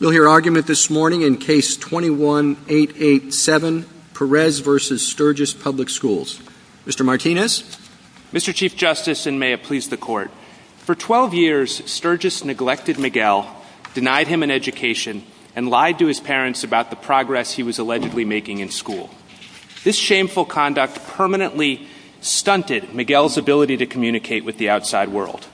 We'll hear argument this morning in Case 21-887, Perez v. Sturgis Public Schools. Mr. Martinez? Mr. Chief Justice, and may it please the Court, for 12 years, Sturgis neglected Miguel, denied him an education, and lied to his parents about the progress he was allegedly making in school. This shameful conduct permanently stunted Miguel's ability to communicate with the outside world.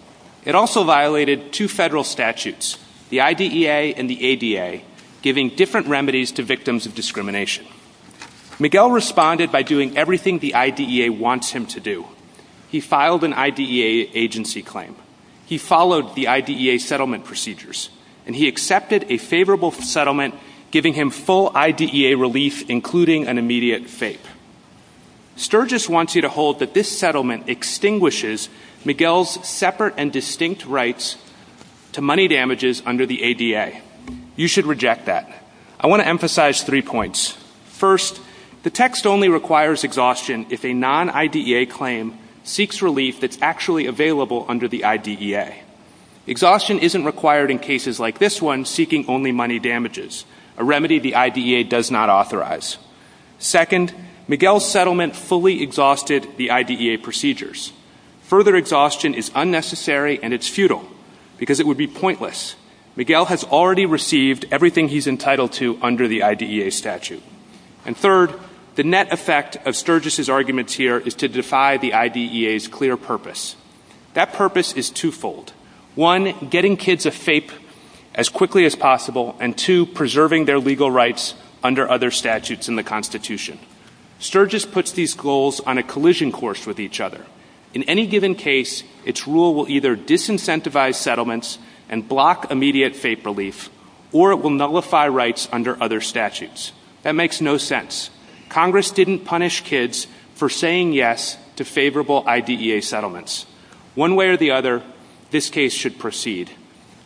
It also violated two federal statutes, the IDEA and the ADA, giving different remedies to victims of discrimination. Miguel responded by doing everything the IDEA wants him to do. He filed an IDEA agency claim. He followed the IDEA settlement procedures. And he accepted a favorable settlement, giving him full IDEA relief, including an immediate fate. Sturgis wants you to hold that this settlement extinguishes Miguel's separate and distinct rights to money damages under the ADA. You should reject that. I want to emphasize three points. First, the text only requires exhaustion if a non-IDEA claim seeks relief that's actually available under the IDEA. Exhaustion isn't required in cases like this one seeking only money damages, a remedy the IDEA does not authorize. Second, Miguel's settlement fully exhausted the IDEA procedures. Further exhaustion is unnecessary and it's futile because it would be pointless. Miguel has already received everything he's entitled to under the IDEA statute. And third, the net effect of Sturgis's arguments here is to defy the IDEA's clear purpose. That purpose is twofold. And two, preserving their legal rights under other statutes in the Constitution. Sturgis puts these goals on a collision course with each other. In any given case, its rule will either disincentivize settlements and block immediate fate relief, or it will nullify rights under other statutes. That makes no sense. Congress didn't punish kids for saying yes to favorable IDEA settlements. One way or the other, this case should proceed.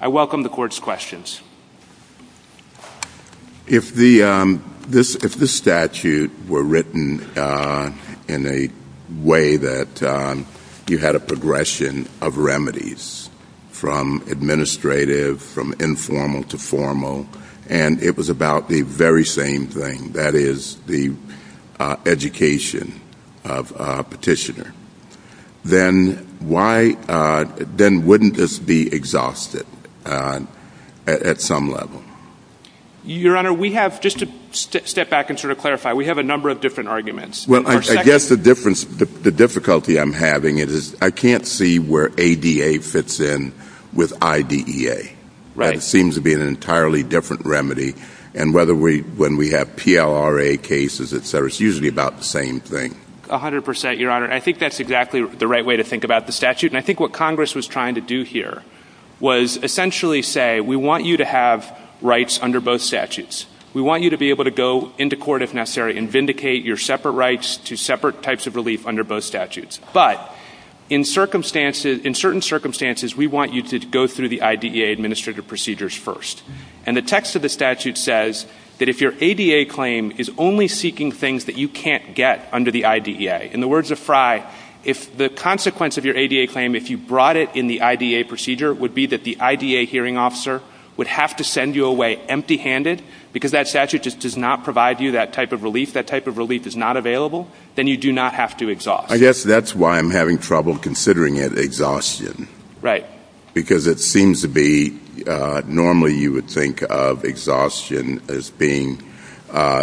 I welcome the Court's questions. If the statute were written in a way that you had a progression of remedies from administrative, from informal to formal, and it was about the very same thing, that is the education of a petitioner, then wouldn't this be exhausted at some level? Your Honor, just to step back and clarify, we have a number of different arguments. I guess the difficulty I'm having is I can't see where ADA fits in with IDEA. It seems to be an entirely different remedy. And when we have PLRA cases, it's usually about the same thing. A hundred percent, Your Honor. I think that's exactly the right way to think about the statute. And I think what Congress was trying to do here was essentially say, we want you to have rights under both statutes. We want you to be able to go into court if necessary and vindicate your separate rights to separate types of relief under both statutes. But in certain circumstances, we want you to go through the IDEA administrative procedures first. And the text of the statute says that if your ADA claim is only seeking things that you can't get under the IDEA. In the words of Fry, if the consequence of your ADA claim, if you brought it in the IDEA procedure, it would be that the IDEA hearing officer would have to send you away empty-handed because that statute just does not provide you that type of relief. That type of relief is not available. Then you do not have to exhaust. I guess that's why I'm having trouble considering it exhaustion. Right. Because it seems to be normally you would think of exhaustion as being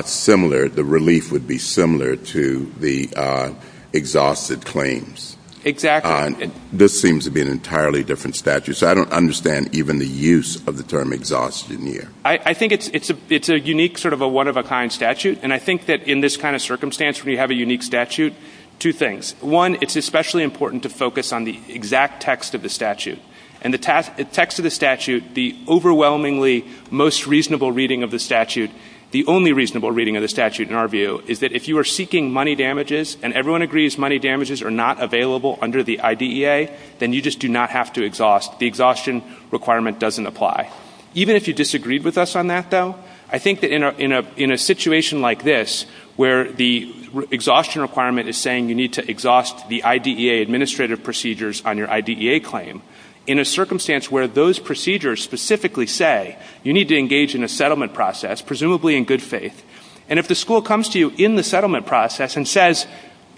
similar. The relief would be similar to the exhausted claims. Exactly. This seems to be an entirely different statute. So I don't understand even the use of the term exhaustion here. I think it's a unique sort of a one-of-a-kind statute. And I think that in this kind of circumstance, when you have a unique statute, two things. One, it's especially important to focus on the exact text of the statute. In the text of the statute, the overwhelmingly most reasonable reading of the statute, the only reasonable reading of the statute in our view, is that if you are seeking money damages and everyone agrees money damages are not available under the IDEA, then you just do not have to exhaust. The exhaustion requirement doesn't apply. Even if you disagreed with us on that, though, I think that in a situation like this, where the exhaustion requirement is saying you need to exhaust the IDEA administrative procedures on your IDEA claim, in a circumstance where those procedures specifically say you need to engage in a settlement process, presumably in good faith, and if the school comes to you in the settlement process and says,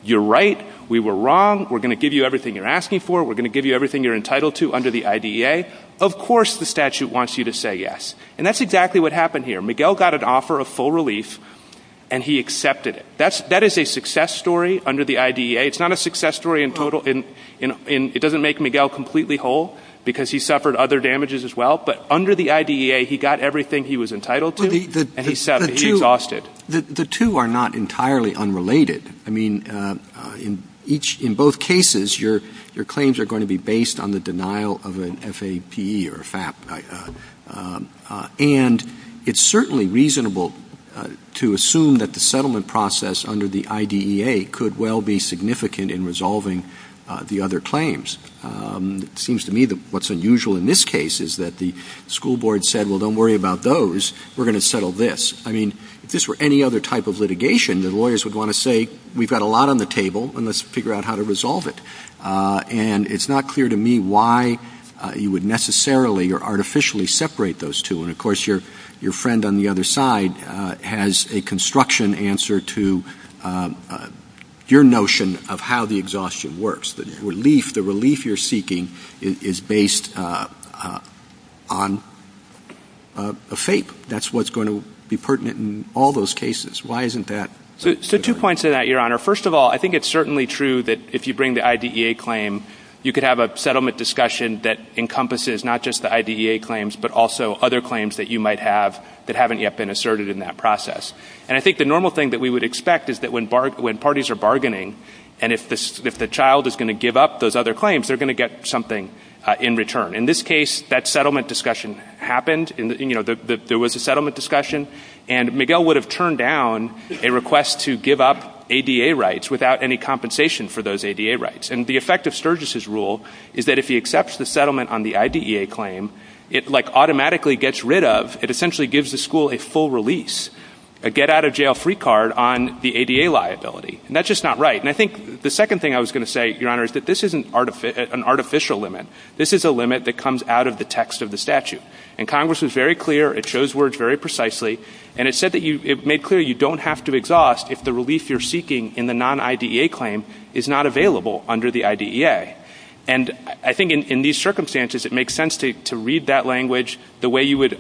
you're right, we were wrong, we're going to give you everything you're asking for, we're going to give you everything you're entitled to under the IDEA, of course the statute wants you to say yes. And that's exactly what happened here. Miguel got an offer of full relief, and he accepted it. That is a success story under the IDEA. It's not a success story in total. It doesn't make Miguel completely whole, because he suffered other damages as well, but under the IDEA he got everything he was entitled to, and he accepted it. He exhausted it. The two are not entirely unrelated. I mean, in both cases, your claims are going to be based on the denial of an FAPE or FAP. And it's certainly reasonable to assume that the settlement process under the IDEA could well be significant in resolving the other claims. It seems to me that what's unusual in this case is that the school board said, well, don't worry about those, we're going to settle this. I mean, if this were any other type of litigation, the lawyers would want to say, we've got a lot on the table, and let's figure out how to resolve it. And it's not clear to me why you would necessarily or artificially separate those two. And, of course, your friend on the other side has a construction answer to your notion of how the exhaustion works. The relief you're seeking is based on a FAPE. That's what's going to be pertinent in all those cases. Why isn't that? So two points to that, Your Honor. First of all, I think it's certainly true that if you bring the IDEA claim, you could have a settlement discussion that encompasses not just the IDEA claims, but also other claims that you might have that haven't yet been asserted in that process. And I think the normal thing that we would expect is that when parties are bargaining and if the child is going to give up those other claims, they're going to get something in return. In this case, that settlement discussion happened. There was a settlement discussion, and Miguel would have turned down a request to give up ADA rights without any compensation for those ADA rights. And the effect of Sturgis' rule is that if he accepts the settlement on the IDEA claim, it automatically gets rid of, it essentially gives the school a full release, a get-out-of-jail-free card on the ADA liability. And that's just not right. And I think the second thing I was going to say, Your Honor, is that this isn't an artificial limit. This is a limit that comes out of the text of the statute. And Congress was very clear, it shows words very precisely, and it made clear you don't have to exhaust if the relief you're seeking in the non-IDEA claim is not available under the IDEA. And I think in these circumstances, it makes sense to read that language the way you would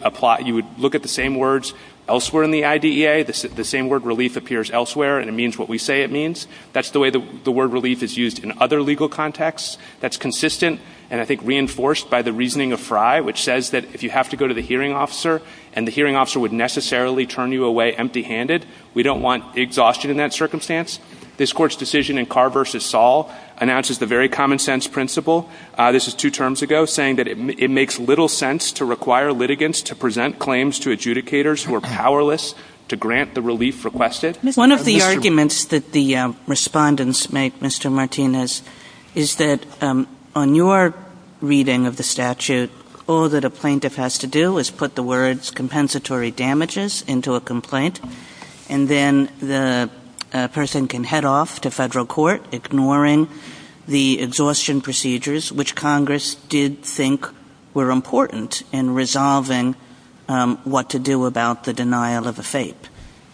look at the same words elsewhere in the IDEA. The same word, relief, appears elsewhere, and it means what we say it means. That's the way the word relief is used in other legal contexts. That's consistent and, I think, reinforced by the reasoning of Frye, which says that if you have to go to the hearing officer and the hearing officer would necessarily turn you away empty-handed, we don't want exhaustion in that circumstance. This Court's decision in Carr v. Saul announces the very common-sense principle. This is two terms ago, saying that it makes little sense to require litigants to present claims to adjudicators who are powerless to grant the relief requested. One of the arguments that the respondents make, Mr. Martinez, is that on your reading of the statute, all that a plaintiff has to do is put the words compensatory damages into a complaint, and then the person can head off to federal court ignoring the exhaustion procedures, which Congress did think were important in resolving what to do about the denial of a FAPE.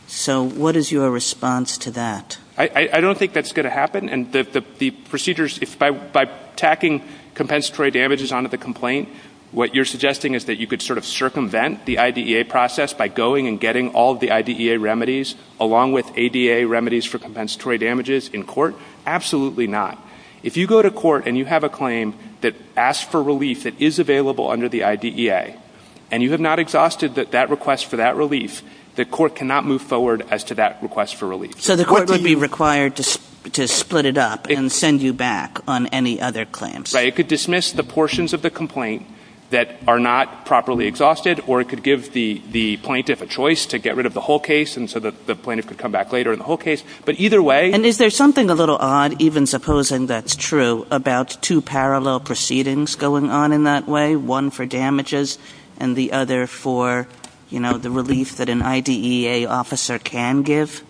So what is your response to that? I don't think that's going to happen, and the procedures... By tacking compensatory damages onto the complaint, what you're suggesting is that you could sort of circumvent the IDEA process by going and getting all the IDEA remedies, along with ADA remedies for compensatory damages, in court? Absolutely not. If you go to court and you have a claim that asks for relief that is available under the IDEA, and you have not exhausted that request for that relief, the court cannot move forward as to that request for relief. So the court would be required to split it up and send you back on any other claims? Right, it could dismiss the portions of the complaint that are not properly exhausted, or it could give the plaintiff a choice to get rid of the whole case so that the plaintiff could come back later in the whole case. But either way... And is there something a little odd, even supposing that's true, about two parallel proceedings going on in that way, one for damages and the other for, you know, the relief that an IDEA officer can give?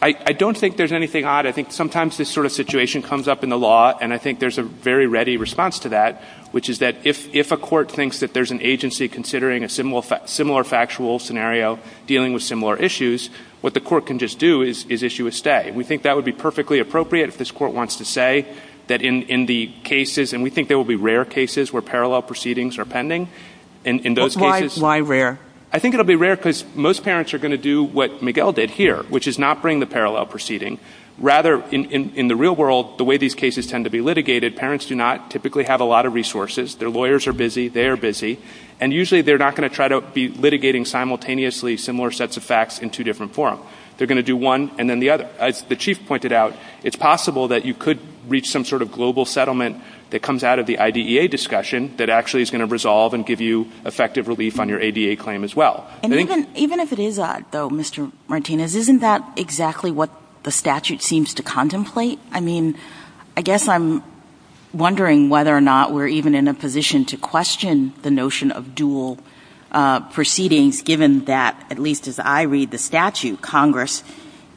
I don't think there's anything odd. I think sometimes this sort of situation comes up in the law, and I think there's a very ready response to that, which is that if a court thinks that there's an agency considering a similar factual scenario dealing with similar issues, what the court can just do is issue a stay. We think that would be perfectly appropriate if this court wants to say that in the cases... And we think there will be rare cases where parallel proceedings are pending. But why rare? I think it will be rare because most parents are going to do what Miguel did here, which is not bring the parallel proceeding. Rather, in the real world, the way these cases tend to be litigated, parents do not typically have a lot of resources. Their lawyers are busy, they are busy, and usually they're not going to try to be litigating simultaneously similar sets of facts in two different forums. They're going to do one and then the other. As the Chief pointed out, it's possible that you could reach some sort of global settlement that comes out of the IDEA discussion that actually is going to resolve and give you effective relief on your ADA claim as well. Even if it is odd, though, Mr Martinez, isn't that exactly what the statute seems to contemplate? I mean, I guess I'm wondering whether or not we're even in a position to question the notion of dual proceedings given that, at least as I read the statute, Congress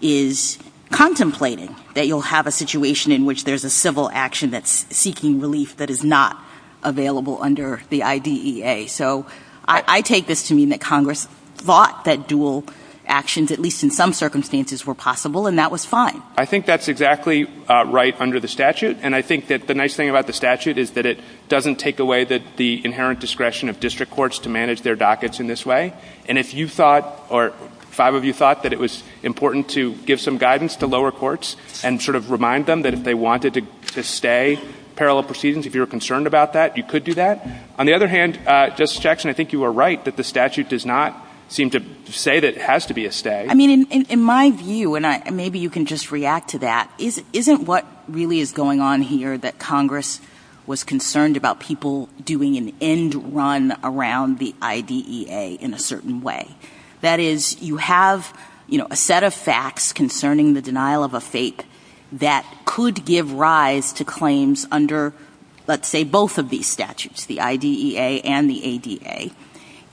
is contemplating that you'll have a situation in which there's a civil action that's seeking relief that is not available under the IDEA. So I take this to mean that Congress thought that dual actions, at least in some circumstances, were possible, and that was fine. I think that's exactly right under the statute, and I think that the nice thing about the statute is that it doesn't take away the inherent discretion of district courts to manage their dockets in this way. And if you thought, or five of you thought, that it was important to give some guidance to lower courts and sort of remind them that if they wanted to stay parallel proceedings, if you were concerned about that, you could do that. On the other hand, Justice Jackson, I think you are right that the statute does not seem to say that it has to be a stay. I mean, in my view, and maybe you can just react to that, isn't what really is going on here that Congress was concerned about people doing an end run around the IDEA in a certain way? That is, you have a set of facts concerning the denial of a fake that could give rise to claims under, let's say, both of these statutes, the IDEA and the ADA,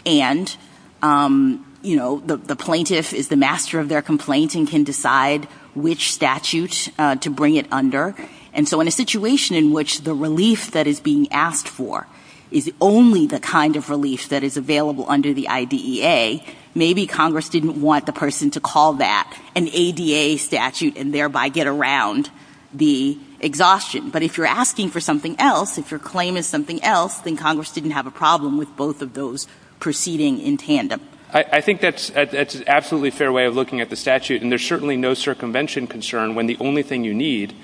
and the plaintiff is the master of their complaint and can decide which statute to bring it under. And so in a situation in which the relief that is being asked for is only the kind of relief that is available under the IDEA, maybe Congress didn't want the person to call that an ADA statute and thereby get around the exhaustion. But if you are asking for something else, if your claim is something else, then Congress didn't have a problem with both of those proceeding in tandem. I think that's an absolutely fair way of looking at the statute, and there's certainly no circumvention concern when the only thing you need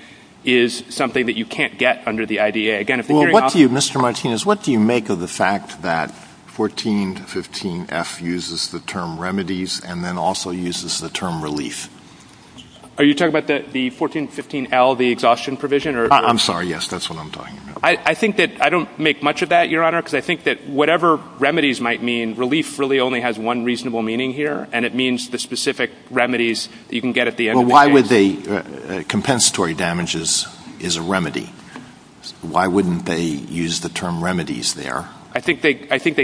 is something that you can't get under the IDEA. Well, what do you, Mr. Martinez, what do you make of the fact that 1415F uses the term remedies and then also uses the term relief? Are you talking about the 1415L, the exhaustion provision? I'm sorry, yes, that's what I'm talking about. I think that I don't make much of that, Your Honor, because I think that whatever remedies might mean, relief really only has one reasonable meaning here, and it means the specific remedies you can get at the end of the day. Well, why would they? Compensatory damage is a remedy. Why wouldn't they use the term remedies there? I think they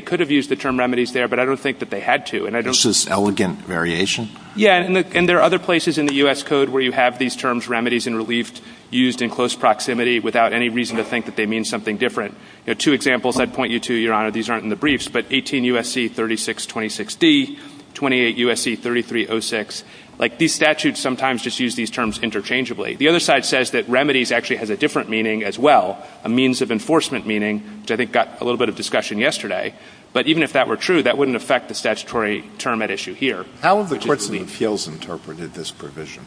could have used the term remedies there, but I don't think that they had to. This is elegant variation? Yes, and there are other places in the U.S. Code where you have these terms remedies and relief used in close proximity without any reason to think that they mean something different. There are two examples I'd point you to, Your Honor. These aren't in the briefs, but 18 U.S.C. 3626D, 28 U.S.C. 3306. Like, these statutes sometimes just use these terms interchangeably. The other side says that remedies actually has a different meaning as well, a means of enforcement meaning, which I think got a little bit of discussion yesterday. But even if that were true, that wouldn't affect the statutory term at issue here. How have the courts of appeals interpreted this provision?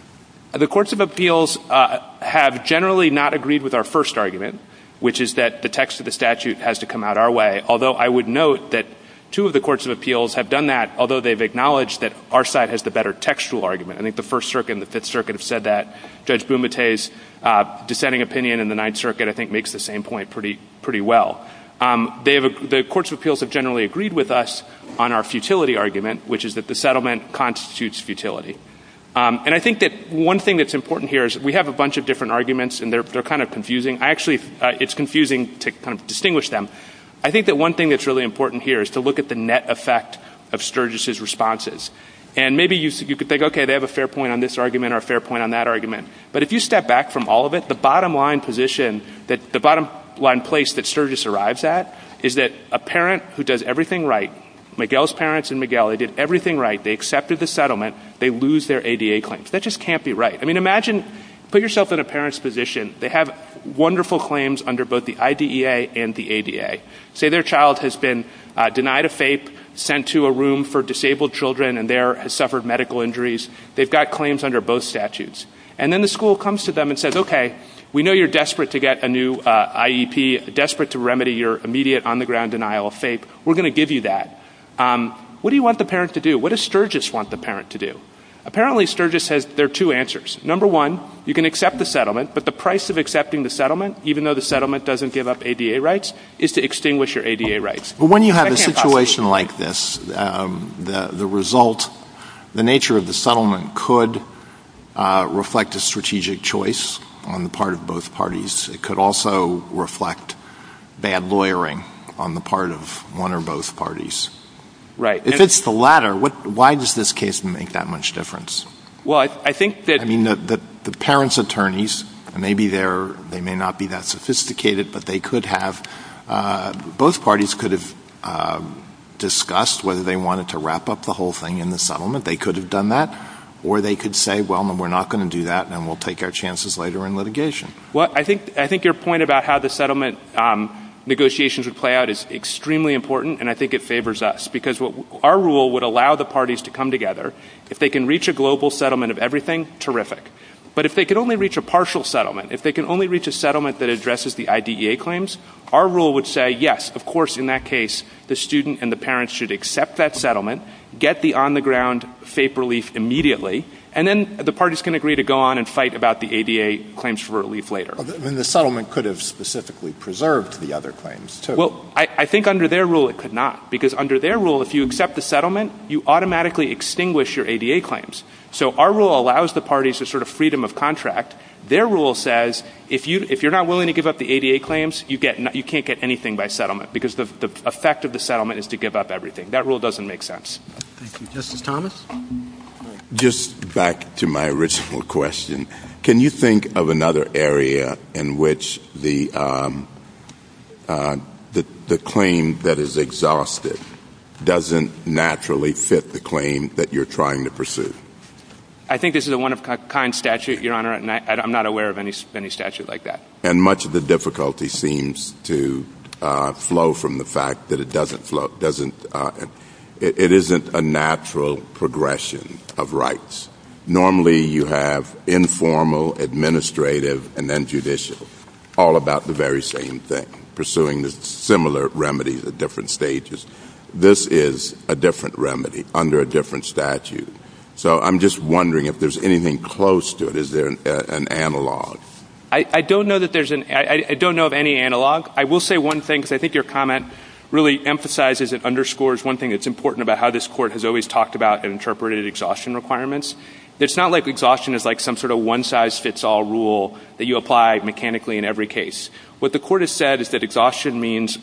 The courts of appeals have generally not agreed with our first argument, which is that the text of the statute has to come out our way, although I would note that two of the courts of appeals have done that, although they've acknowledged that our side has the better textual argument. I think the First Circuit and the Fifth Circuit have said that. Judge Bumate's dissenting opinion in the Ninth Circuit, I think, makes the same point pretty well. The courts of appeals have generally agreed with us on our futility argument, which is that the settlement constitutes futility. And I think that one thing that's important here is, we have a bunch of different arguments, and they're kind of confusing. Actually, it's confusing to kind of distinguish them. I think that one thing that's really important here is to look at the net effect of Sturgis' responses. And maybe you could think, okay, they have a fair point on this argument or a fair point on that argument. But if you step back from all of it, the bottom line position, the bottom line place that Sturgis arrives at is that a parent who does everything right, Miguel's parents and Miguel, they did everything right. They accepted the settlement. They lose their ADA claim. That just can't be right. I mean, imagine, put yourself in a parent's position. They have wonderful claims under both the IDEA and the ADA. Say their child has been denied a FAPE, sent to a room for disabled children, and there has suffered medical injuries. They've got claims under both statutes. And then the school comes to them and says, okay, we know you're desperate to get a new IEP, desperate to remedy your immediate on-the-ground denial of FAPE. We're going to give you that. What do you want the parent to do? What does Sturgis want the parent to do? Apparently, Sturgis says there are two answers. Number one, you can accept the settlement, but the price of accepting the settlement, even though the settlement doesn't give up ADA rights, is to extinguish your ADA rights. But when you have a situation like this, the result, the nature of the settlement, could reflect a strategic choice on the part of both parties. It could also reflect bad lawyering on the part of one or both parties. If it's the latter, why does this case make that much difference? I mean, the parent's attorneys, maybe they may not be that sophisticated, but both parties could have discussed whether they wanted to wrap up the whole thing in the settlement. They could have done that. Or they could say, well, we're not going to do that, and we'll take our chances later in litigation. Well, I think your point about how the settlement negotiations would play out is extremely important, and I think it favors us, because our rule would allow the parties to come together. If they can reach a global settlement of everything, terrific. But if they can only reach a partial settlement, if they can only reach a settlement that addresses the IDEA claims, our rule would say, yes, of course, in that case, the student and the parent should accept that settlement, get the on-the-ground faith relief immediately, and then the parties can agree to go on and fight about the ADA claims for relief later. Then the settlement could have specifically preserved the other claims, too. Well, I think under their rule it could not, because under their rule, if you accept the settlement, you automatically extinguish your ADA claims. So our rule allows the parties the sort of freedom of contract. Their rule says if you're not willing to give up the ADA claims, you can't get anything by settlement, because the effect of the settlement is to give up everything. That rule doesn't make sense. Thank you. Justice Thomas? Just back to my original question. Can you think of another area in which the claim that is exhaustive doesn't naturally fit the claim that you're trying to pursue? I think this is a one-of-a-kind statute, Your Honor, and I'm not aware of any statute like that. And much of the difficulty seems to flow from the fact that it doesn't. It isn't a natural progression of rights. Normally you have informal, administrative, and then judicial, all about the very same thing, pursuing the similar remedies at different stages. This is a different remedy under a different statute. So I'm just wondering if there's anything close to it. Is there an analog? I don't know of any analog. I will say one thing, because I think your comment really emphasizes and underscores one thing that's important about how this Court has always talked about and interpreted exhaustion requirements. It's not like exhaustion is like some sort of one-size-fits-all rule that you apply mechanically in every case. What the Court has said is that exhaustion means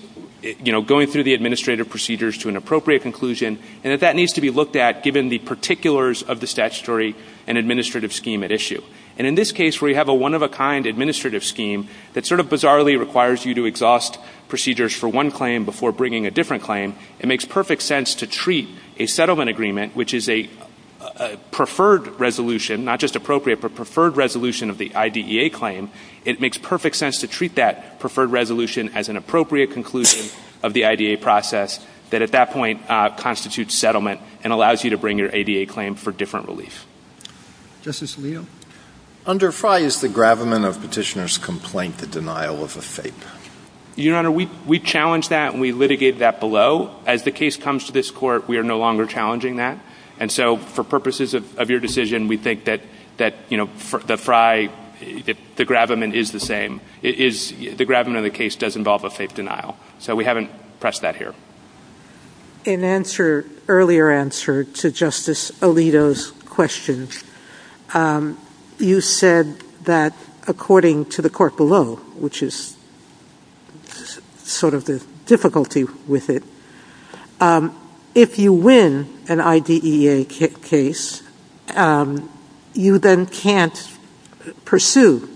going through the administrative procedures to an appropriate conclusion, and that that needs to be looked at given the particulars of the statutory and administrative scheme at issue. And in this case, where you have a one-of-a-kind administrative scheme that sort of bizarrely requires you to exhaust procedures for one claim before bringing a different claim, it makes perfect sense to treat a settlement agreement, which is a preferred resolution, not just appropriate, but preferred resolution of the IDEA claim, it makes perfect sense to treat that preferred resolution as an appropriate conclusion of the IDEA process that at that point constitutes settlement and allows you to bring your IDEA claim for different relief. Justice O'Neill? Under FRI, is the gravamen of petitioner's complaint the denial of a faith? Your Honor, we challenge that and we litigate that below. As the case comes to this Court, we are no longer challenging that. And so for purposes of your decision, we think that the FRI, the gravamen is the same. The gravamen of the case does involve a faith denial. So we haven't pressed that here. An earlier answer to Justice Alito's question, you said that according to the court below, which is sort of the difficulty with it, if you win an IDEA case, you then can't pursue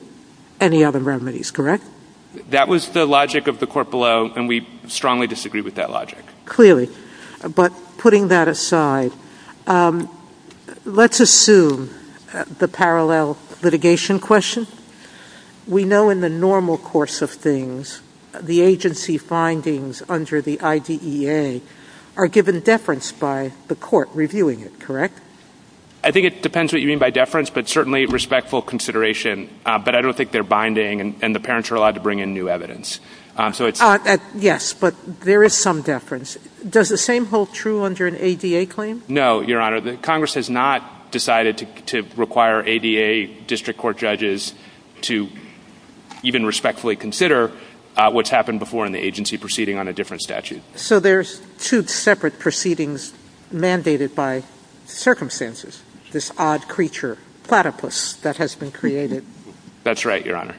any other remedies, correct? That was the logic of the court below, and we strongly disagree with that logic. Clearly. But putting that aside, let's assume the parallel litigation question. We know in the normal course of things, the agency findings under the IDEA are given deference by the court reviewing it, correct? I think it depends what you mean by deference, but certainly respectful consideration. But I don't think they're binding, and the parents are allowed to bring in new evidence. Yes, but there is some deference. Does the same hold true under an ADA claim? No, Your Honor. Congress has not decided to require ADA district court judges to even respectfully consider what's happened before in the agency proceeding on a different statute. So there's two separate proceedings mandated by circumstances. This odd creature, platypus, that has been created. That's right, Your Honor.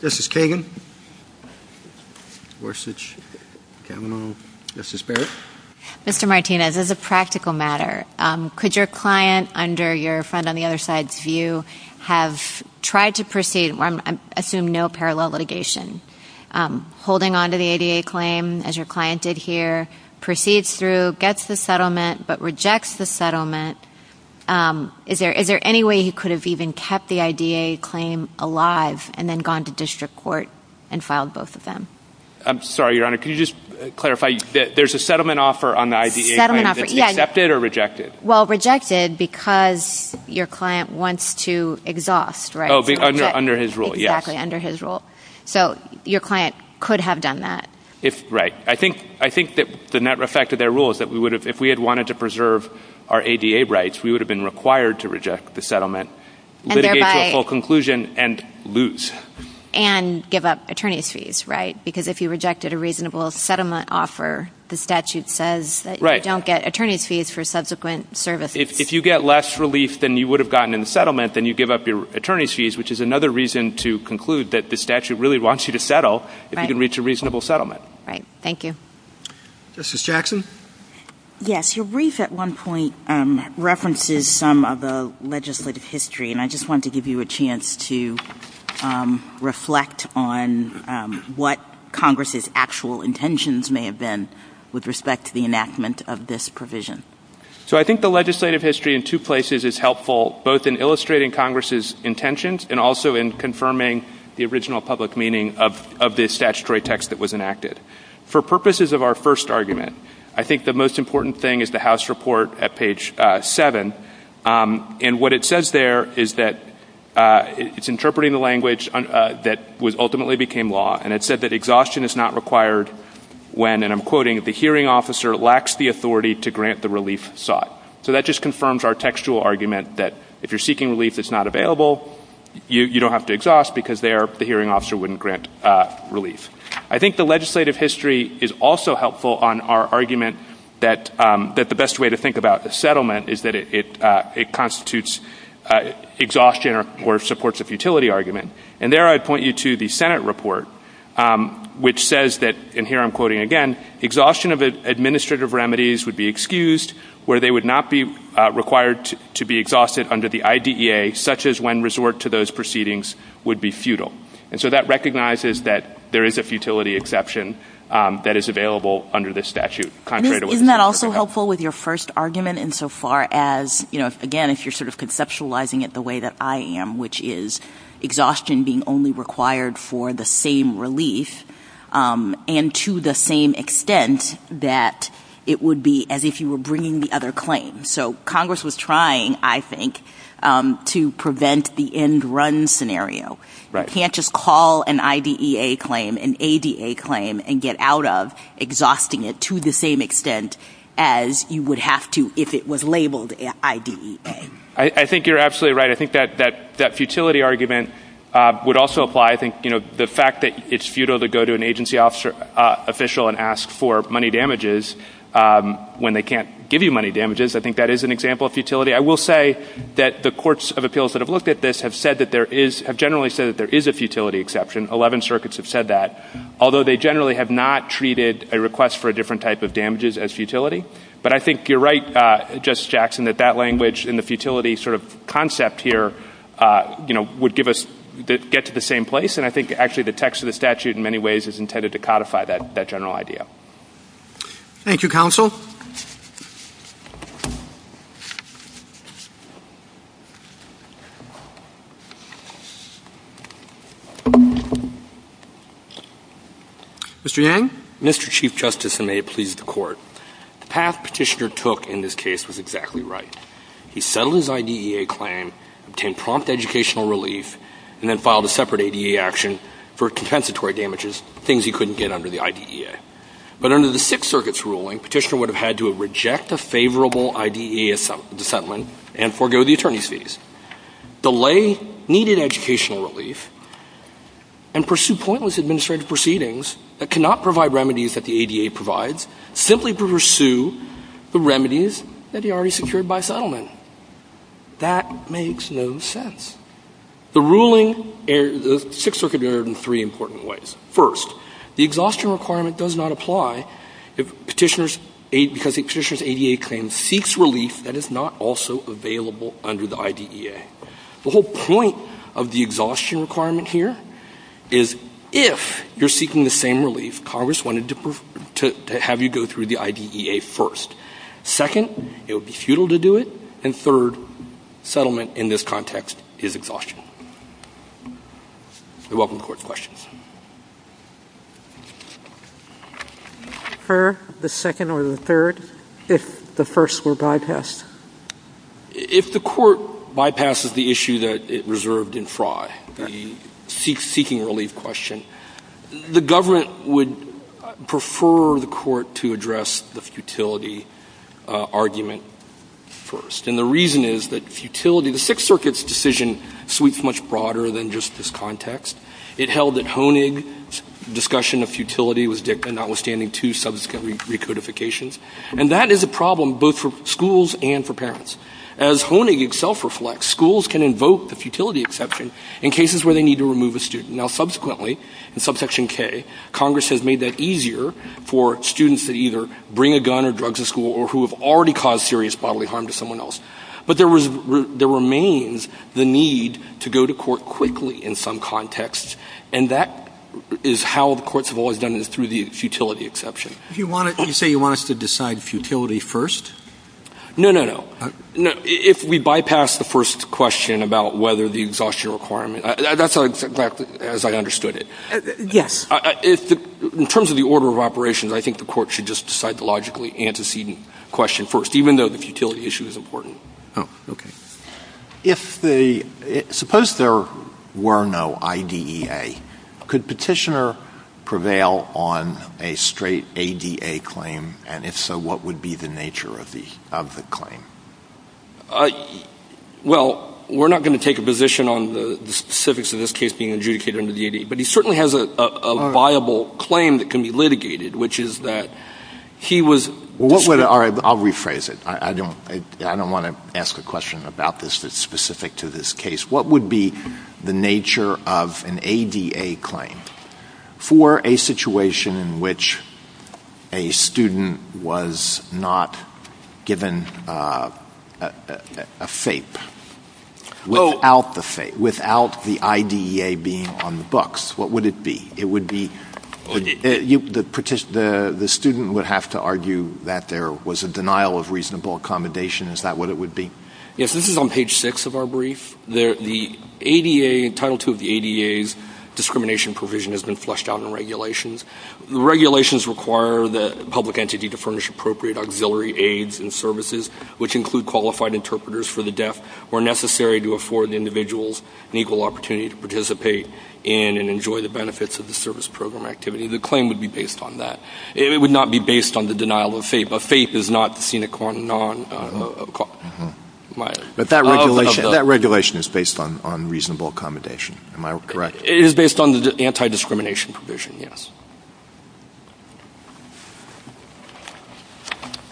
This is Kagan. Worstich. Kavanaugh. Justice Barrett. Mr. Martinez, as a practical matter, could your client, under your friend on the other side's view, have tried to proceed on, I assume, no parallel litigation, holding on to the ADA claim, as your client did here, proceeds through, gets the settlement, but rejects the settlement. Is there any way he could have even kept the ADA claim alive and then gone to district court and filed both of them? I'm sorry, Your Honor. Can you just clarify? There's a settlement offer on the ADA claim. Settlement offer, yes. Is it accepted or rejected? Well, rejected because your client wants to exhaust, right? Oh, under his rule, yes. Exactly, under his rule. So your client could have done that. Right. I think that the net effect of that rule is that if we had wanted to preserve our ADA rights, we would have been required to reject the settlement, litigate for a full conclusion, and lose. And give up attorney's fees, right? Because if you rejected a reasonable settlement offer, the statute says that you don't get attorney's fees for subsequent services. If you get less relief than you would have gotten in the settlement, then you give up your attorney's fees, which is another reason to conclude that the statute really wants you to settle if you can reach a reasonable settlement. Right. Thank you. Justice Jackson? Yes. Your brief at one point references some of the legislative history, and I just wanted to give you a chance to reflect on what Congress's actual intentions may have been with respect to the enactment of this provision. So I think the legislative history in two places is helpful, both in illustrating Congress's intentions and also in confirming the original public meaning of the statutory text that was enacted. For purposes of our first argument, I think the most important thing is the House report at page 7. And what it says there is that it's interpreting the language that ultimately became law, and it said that exhaustion is not required when, and I'm quoting, the hearing officer lacks the authority to grant the relief sought. So that just confirms our textual argument that if you're seeking relief that's not available, you don't have to exhaust because there the hearing officer wouldn't grant relief. I think the legislative history is also helpful on our argument that the best way to think about the settlement is that it constitutes exhaustion or supports a futility argument. And there I'd point you to the Senate report, which says that, and here I'm quoting again, exhaustion of administrative remedies would be excused where they would not be required to be exhausted under the IDEA, such as when resort to those proceedings would be futile. And so that recognizes that there is a futility exception that is available under this statute. Isn't that also helpful with your first argument insofar as, you know, again, if you're sort of conceptualizing it the way that I am, which is exhaustion being only required for the same relief and to the same extent that it would be as if you were bringing the other claim. So Congress was trying, I think, to prevent the end run scenario. You can't just call an IDEA claim, an ADA claim, and get out of exhausting it to the same extent as you would have to if it was labeled IDEA. I think you're absolutely right. I think that that futility argument would also apply. I think, you know, the fact that it's futile to go to an agency officer official and ask for money damages when they can't give you money damages, I think that is an example of futility. I will say that the courts of appeals that have looked at this have said that there is, have generally said that there is a futility exception. Eleven circuits have said that, although they generally have not treated a request for a different type of damages as futility. But I think you're right, Justice Jackson, that that language and the futility sort of concept here, you know, would give us, get to the same place. And I think actually the text of the statute in many ways is intended to codify that general idea. Thank you, Counsel. Mr. Yang? Mr. Chief Justice, and may it please the Court, the path Petitioner took in this case was exactly right. He settled his IDEA claim, obtained prompt educational relief, and then filed a separate IDEA action for compensatory damages, things he couldn't get under the IDEA. But under the Sixth Circuit's ruling, Petitioner would have had to reject a favorable IDEA settlement and forgo the attorney's fees, delay needed educational relief, and pursue pointless administrative proceedings that cannot provide remedies that the ADA provides, simply pursue the remedies that he already secured by settlement. That makes no sense. The ruling, the Sixth Circuit did it in three important ways. First, the exhaustion requirement does not apply if Petitioner's, because Petitioner's ADA claim seeks relief that is not also available under the IDEA. The whole point of the exhaustion requirement here is if you're seeking the same relief, Congress wanted to have you go through the IDEA first. Second, it would be futile to do it. And third, settlement in this context is exhaustion. We welcome the Court's questions. The second or the third, if the first were bypassed? If the Court bypasses the issue that it reserved in fraud, the seeking relief question, the government would prefer the Court to address the futility argument first. And the reason is that futility, the Sixth Circuit's decision sweeps much broader than just this context. It held that Honig's discussion of futility was notwithstanding two subsequent recodifications. And that is a problem both for schools and for parents. As Honig himself reflects, schools can invoke the futility exception in cases where they need to remove a student. Now, subsequently, in Subsection K, Congress has made that easier for students that either bring a gun or drugs to school or who have already caused serious bodily harm to someone else. But there remains the need to go to court quickly in some context. And that is how the courts have always done it, through the futility exception. You say you want us to decide futility first? No, no, no. If we bypass the first question about whether the exhaustion requirement, that's exactly as I understood it. Yes. In terms of the order of operations, I think the court should just decide the logically antecedent question first, even though the futility issue is important. Oh, okay. Suppose there were no IDEA. Could Petitioner prevail on a straight ADA claim? And if so, what would be the nature of the claim? Well, we're not going to take a position on the specifics of this case being adjudicated under the ADA, but he certainly has a viable claim that can be litigated, which is that he was. I'll rephrase it. I don't want to ask a question about this that's specific to this case. What would be the nature of an ADA claim for a situation in which a student was not given a FAPE without the IDEA being on the books? What would it be? The student would have to argue that there was a denial of reasonable accommodation. Is that what it would be? Yes. This is on page six of our brief. Title II of the ADA's discrimination provision has been flushed out in regulations. The regulations require the public entity to furnish appropriate auxiliary aids and services, which include qualified interpreters for the deaf, where necessary to afford the individuals an equal opportunity to participate in and enjoy the benefits of the service program activity. The claim would be based on that. It would not be based on the denial of FAPE. A FAPE is not seen as a non-accommodation. But that regulation is based on reasonable accommodation, am I correct? It is based on the anti-discrimination provision, yes.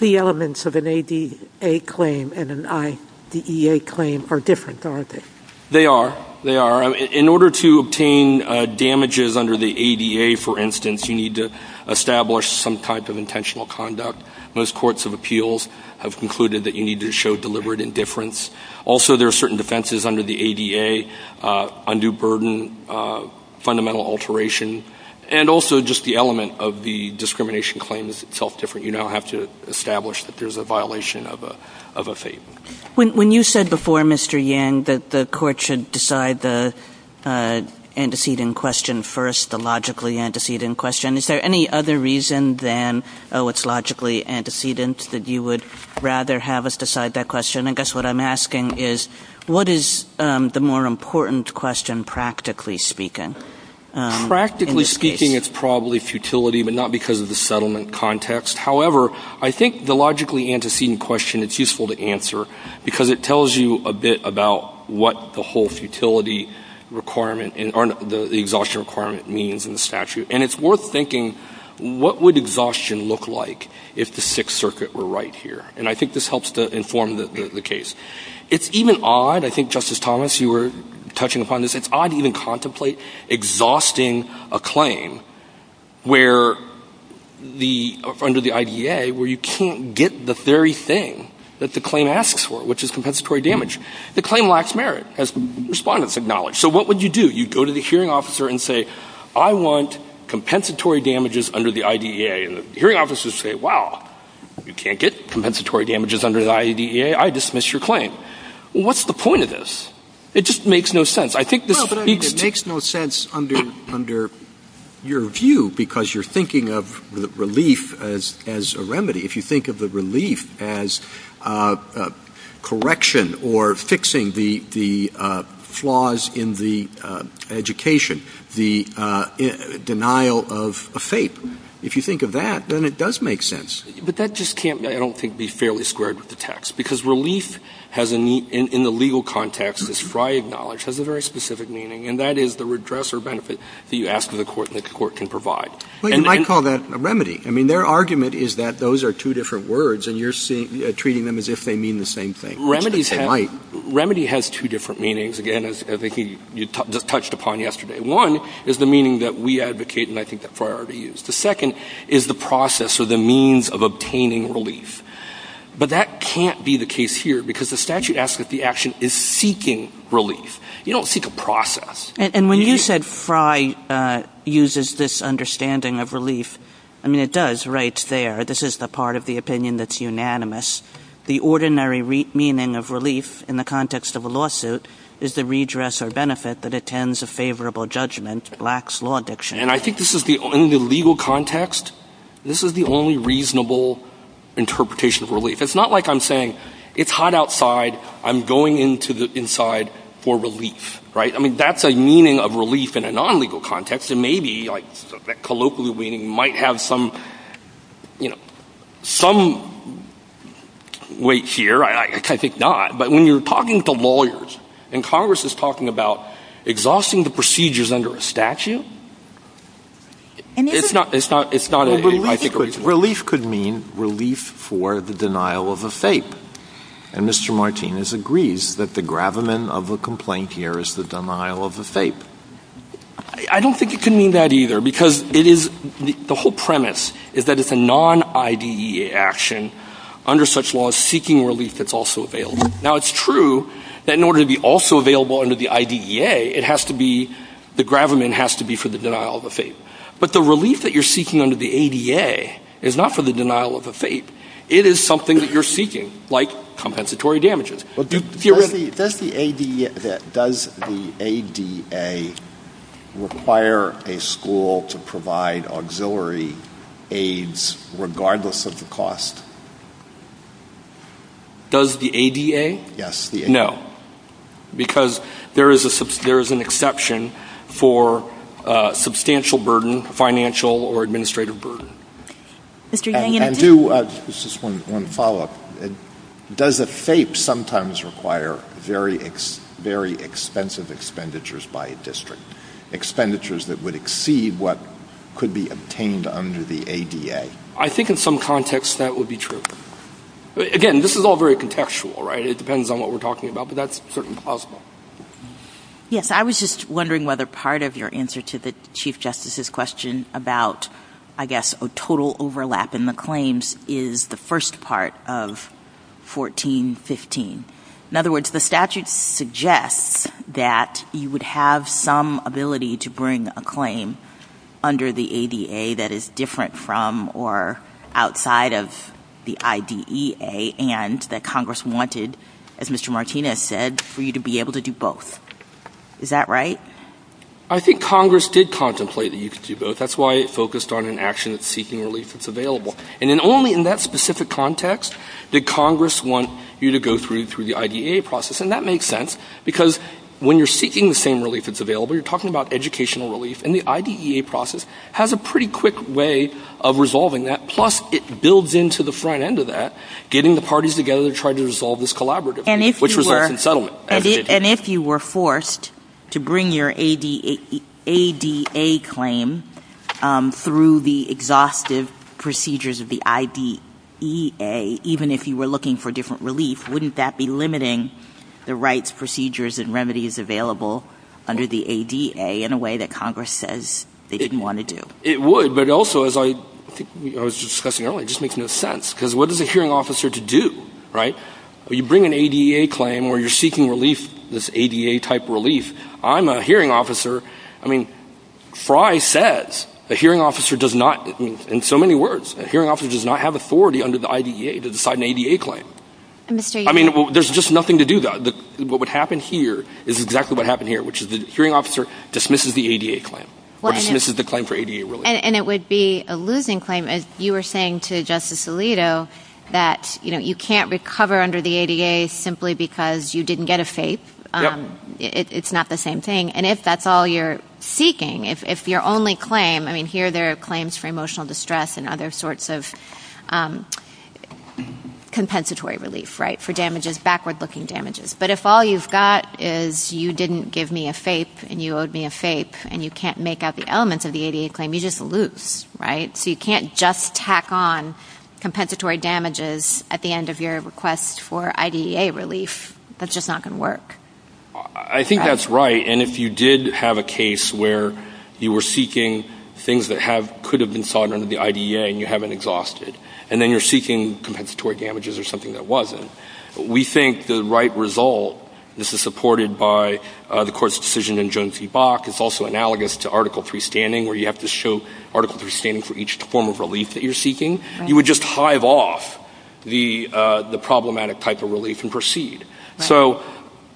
The elements of an ADA claim and an IDEA claim are different, aren't they? They are. In order to obtain damages under the ADA, for instance, you need to establish some type of intentional conduct. Most courts of appeals have concluded that you need to show deliberate indifference. Also, there are certain defenses under the ADA, undue burden, fundamental alteration, and also just the element of the discrimination claim is itself different. You now have to establish that there's a violation of a FAPE. When you said before, Mr. Yang, that the court should decide the antecedent question first, the logically antecedent question, is there any other reason than, oh, it's logically antecedent, that you would rather have us decide that question? I guess what I'm asking is, what is the more important question, practically speaking? Practically speaking, it's probably futility, but not because of the settlement context. However, I think the logically antecedent question is useful to answer because it tells you a bit about what the whole futility requirement and the exhaustion requirement means in the statute. And it's worth thinking, what would exhaustion look like if the Sixth Circuit were right here? And I think this helps to inform the case. It's even odd, I think, Justice Thomas, you were touching upon this, it's odd to even contemplate exhausting a claim under the IDEA where you can't get the very thing that the claim asks for, which is compensatory damage. The claim lacks merit, as respondents acknowledge. So what would you do? You'd go to the hearing officer and say, I want compensatory damages under the IDEA. And the hearing officers say, wow, you can't get compensatory damages under the IDEA. I dismiss your claim. Well, what's the point of this? It just makes no sense. It makes no sense under your view because you're thinking of relief as a remedy. If you think of the relief as correction or fixing the flaws in the education, the denial of a fate, if you think of that, then it does make sense. But that just can't, I don't think, be fairly squared with the text. Because relief has, in the legal context, as Fry acknowledged, has a very specific meaning, and that is the redress or benefit that you ask of the court and that the court can provide. Well, you might call that a remedy. I mean, their argument is that those are two different words, and you're treating them as if they mean the same thing. Remedy has two different meanings, again, as you touched upon yesterday. One is the meaning that we advocate and I think that Fry already used. The second is the process or the means of obtaining relief. But that can't be the case here because the statute asks that the action is seeking relief. You don't seek a process. And when you said Fry uses this understanding of relief, I mean, it does right there. This is the part of the opinion that's unanimous. The ordinary meaning of relief in the context of a lawsuit is the redress or benefit that attends a favorable judgment lacks law diction. And I think this is, in the legal context, this is the only reasonable interpretation of relief. It's not like I'm saying it's hot outside, I'm going inside for relief. I mean, that's a meaning of relief in a non-legal context, and maybe colloquially we might have some weight here. I think not. But when you're talking to lawyers and Congress is talking about exhausting the procedures under a statute, it's not a relief. Relief could mean relief for the denial of a fate. And Mr. Martinez agrees that the gravamen of a complaint here is the denial of a fate. I don't think it can mean that either because the whole premise is that it's a non-IDE action under such law as seeking relief that's also available. Now, it's true that in order to be also available under the IDEA, the gravamen has to be for the denial of a fate. But the relief that you're seeking under the ADA is not for the denial of a fate. It is something that you're seeking, like compensatory damages. Does the ADA require a school to provide auxiliary aids regardless of the cost? Does the ADA? Yes. No. Because there is an exception for substantial burden, financial or administrative burden. This is one follow-up. Does a fate sometimes require very expensive expenditures by a district, expenditures that would exceed what could be obtained under the ADA? I think in some context that would be true. Again, this is all very contextual, right? It depends on what we're talking about, but that's certainly possible. Yes, I was just wondering whether part of your answer to the Chief Justice's question about, I guess, a total overlap in the claims is the first part of 1415. In other words, the statute suggests that you would have some ability to bring a claim under the ADA that is different from or outside of the IDEA and that Congress wanted, as Mr. Martinez said, for you to be able to do both. Is that right? I think Congress did contemplate that you could do both. That's why it focused on an action of seeking relief that's available. And then only in that specific context did Congress want you to go through the IDEA process. And that makes sense because when you're seeking the same relief that's available, you're talking about educational relief, and the IDEA process has a pretty quick way of resolving that. Plus, it builds into the front end of that, getting the parties together to try to resolve this collaboratively, which results in settlement. And if you were forced to bring your ADA claim through the exhaustive procedures of the IDEA, even if you were looking for different relief, wouldn't that be limiting the rights, procedures, and remedies available under the ADA in a way that Congress says that you want to do? It would, but also, as I was discussing earlier, it just makes no sense. Because what is a hearing officer to do, right? You bring an ADA claim where you're seeking relief, this ADA-type relief. I'm a hearing officer. I mean, Fry says a hearing officer does not, in so many words, a hearing officer does not have authority under the IDEA to decide an ADA claim. I mean, there's just nothing to do that. What would happen here is exactly what happened here, which is the hearing officer dismisses the ADA claim or dismisses the claim for ADA relief. And it would be a losing claim, as you were saying to Justice Alito, that you can't recover under the ADA simply because you didn't get a fate. It's not the same thing. And if that's all you're seeking, if your only claim, I mean, here there are claims for emotional distress and other sorts of compensatory relief, right, for damages, backward-looking damages. But if all you've got is you didn't give me a fate and you owed me a fate and you can't make out the elements of the ADA claim, you just lose, right? So you can't just tack on compensatory damages at the end of your request for IDEA relief. That's just not going to work. I think that's right. And if you did have a case where you were seeking things that could have been sought under the IDEA and you haven't exhausted, and then you're seeking compensatory damages or something that wasn't, we think the right result, this is supported by the court's decision in Jones v. Bach. It's also analogous to Article 3 standing, where you have to show Article 3 standing for each form of relief that you're seeking. You would just hive off the problematic type of relief and proceed. So,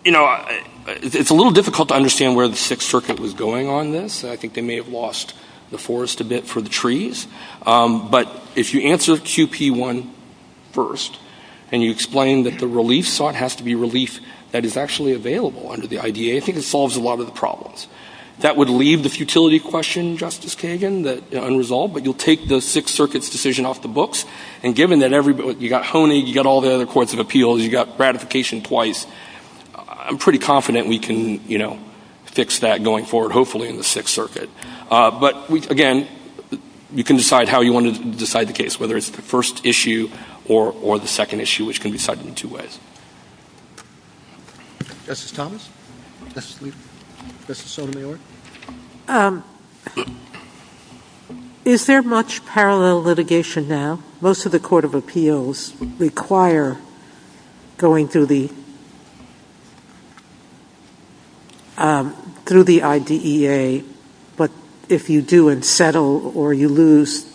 you know, it's a little difficult to understand where the Sixth Circuit was going on this. I think they may have lost the forest a bit for the trees. But if you answer QP1 first and you explain that the relief sought has to be relief that is actually available under the IDEA, I think it solves a lot of the problems. That would leave the futility question, Justice Kagan, unresolved, but you'll take the Sixth Circuit's decision off the books. And given that you got Honey, you got all the other courts of appeals, you got gratification twice, I'm pretty confident we can, you know, fix that going forward, hopefully, in the Sixth Circuit. But, again, you can decide how you want to decide the case, whether it's the first issue or the second issue, which can be decided in two ways. Is there much parallel litigation now? Most of the court of appeals require going through the IDEA, but if you do and settle or you lose...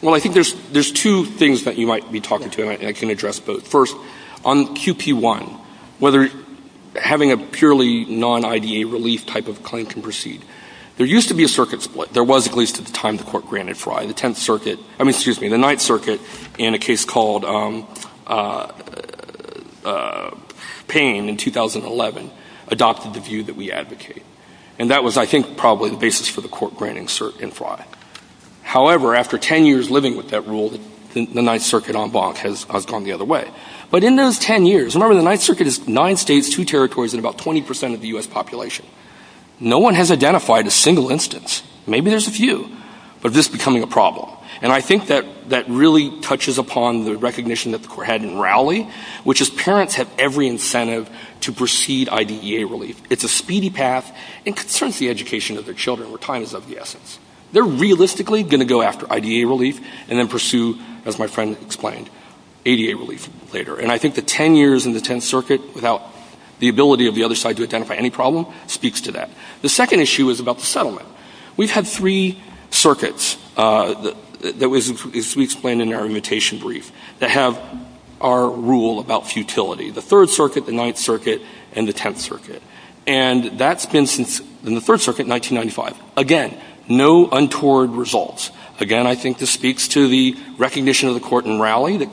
Well, I think there's two things that you might be talking to, and I can address both. First, on QP1, whether having a purely non-IDEA relief type of claim can proceed. There used to be a circuit split. There was, at least at the time the court granted Fry. The Ninth Circuit, in a case called Payne in 2011, adopted the view that we advocate. And that was, I think, probably the basis for the court granting Fry. However, after ten years living with that rule, the Ninth Circuit has gone the other way. But in those ten years, remember the Ninth Circuit is nine states, two territories, and about 20% of the U.S. population. No one has identified a single instance, maybe there's a few, of this becoming a problem. And I think that really touches upon the recognition that the court had in Rowley, which is parents have every incentive to proceed IDEA relief. It's a speedy path, and it concerns the education of their children where time is of the essence. They're realistically going to go after IDEA relief and then pursue, as my friend explained, ADA relief later. And I think the ten years in the Tenth Circuit, without the ability of the other side to identify any problem, speaks to that. The second issue is about the settlement. We've had three circuits, as we explained in our imitation brief, that have our rule about futility. The Third Circuit, the Ninth Circuit, and the Tenth Circuit. And that's been since the Third Circuit, 1995. Again, no untoward results. Again, I think this speaks to the recognition of the court in Rowley. The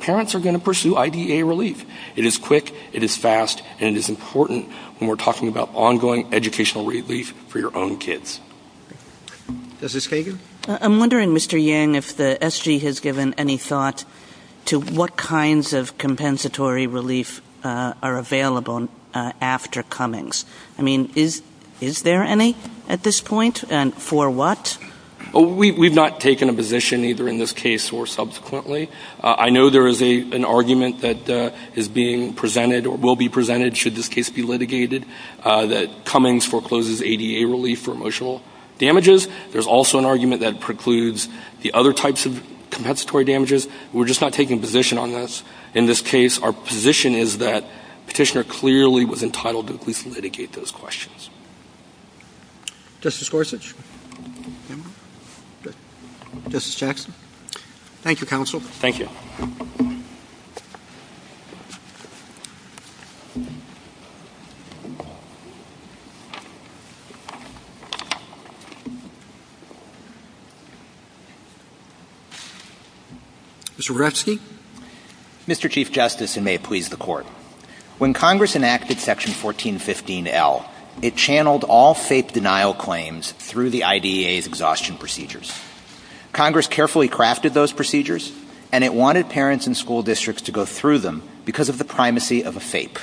parents are going to pursue IDEA relief. It is quick, it is fast, and it is important when we're talking about ongoing educational relief for your own kids. Justice Kagan? I'm wondering, Mr. Yang, if the SG has given any thought to what kinds of compensatory relief are available after Cummings. I mean, is there any at this point, and for what? We've not taken a position, either in this case or subsequently. I know there is an argument that is being presented, or will be presented, should this case be litigated, that Cummings forecloses ADA relief for emotional damages. There's also an argument that precludes the other types of compensatory damages. We're just not taking a position on this. In this case, our position is that Petitioner clearly was entitled to at least litigate those questions. Justice Gorsuch? Justice Jackson? Thank you, Counsel. Thank you. Mr. Brzezinski? When Congress enacted Section 1415L, it channeled all fake denial claims through the IDEA's exhaustion procedures. Congress carefully crafted those procedures, and it wanted parents and school districts to go through them because of the primacy of a fake.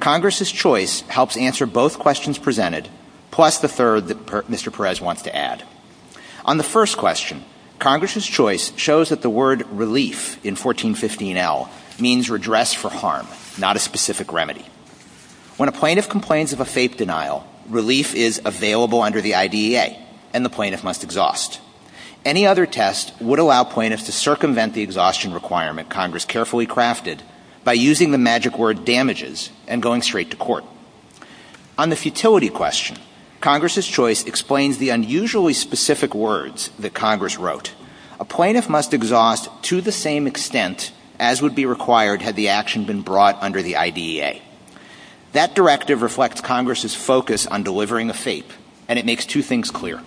Congress's choice helps answer both questions presented, plus the third that Mr. Perez wants to add. On the first question, Congress's choice shows that the word relief in 1415L means redress for harm, not a specific remedy. When a plaintiff complains of a fake denial, relief is available under the IDEA, and the plaintiff must exhaust. Any other test would allow plaintiffs to circumvent the exhaustion requirement Congress carefully crafted by using the magic word damages and going straight to court. On the futility question, Congress's choice explains the unusually specific words that Congress wrote. A plaintiff must exhaust to the same extent as would be required had the action been brought under the IDEA. That directive reflects Congress's focus on delivering a fake, and it makes two things clear.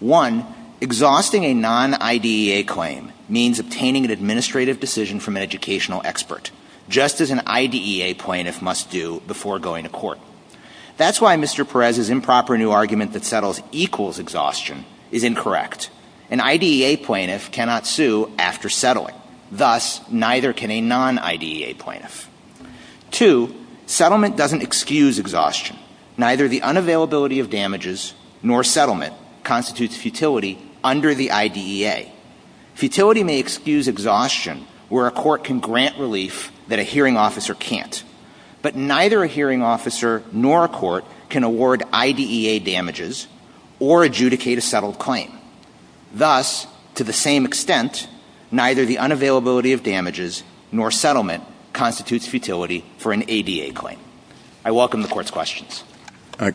One, exhausting a non-IDEA claim means obtaining an administrative decision from an educational expert, just as an IDEA plaintiff must do before going to court. That's why Mr. Perez's improper new argument that settles equals exhaustion is incorrect. An IDEA plaintiff cannot sue after settling. Thus, neither can a non-IDEA plaintiff. Two, settlement doesn't excuse exhaustion. Neither the unavailability of damages nor settlement constitutes futility under the IDEA. Futility may excuse exhaustion where a court can grant relief that a hearing officer can't. But neither a hearing officer nor a court can award IDEA damages or adjudicate a settled claim. Thus, to the same extent, neither the unavailability of damages nor settlement constitutes futility for an IDEA claim. I welcome the Court's questions.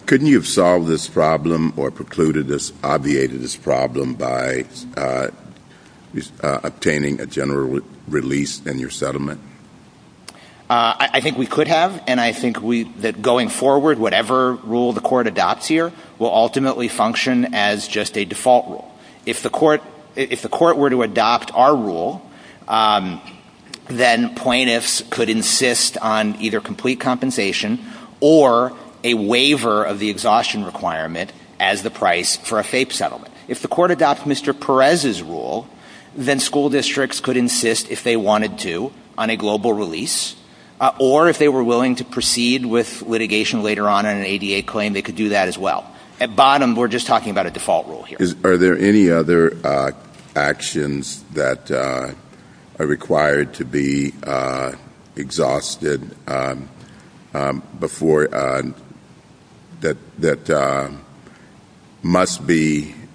Couldn't you have solved this problem or precluded this, obviated this problem by obtaining a general release in your settlement? I think we could have, and I think that going forward, whatever rule the Court adopts here will ultimately function as just a default rule. If the Court were to adopt our rule, then plaintiffs could insist on either complete compensation or a waiver of the exhaustion requirement as the price for a FAPE settlement. If the Court adopts Mr. Perez's rule, then school districts could insist, if they wanted to, on a global release, or if they were willing to proceed with litigation later on in an ADA claim, they could do that as well. At bottom, we're just talking about a default rule here. Are there any other actions that are required to be exhausted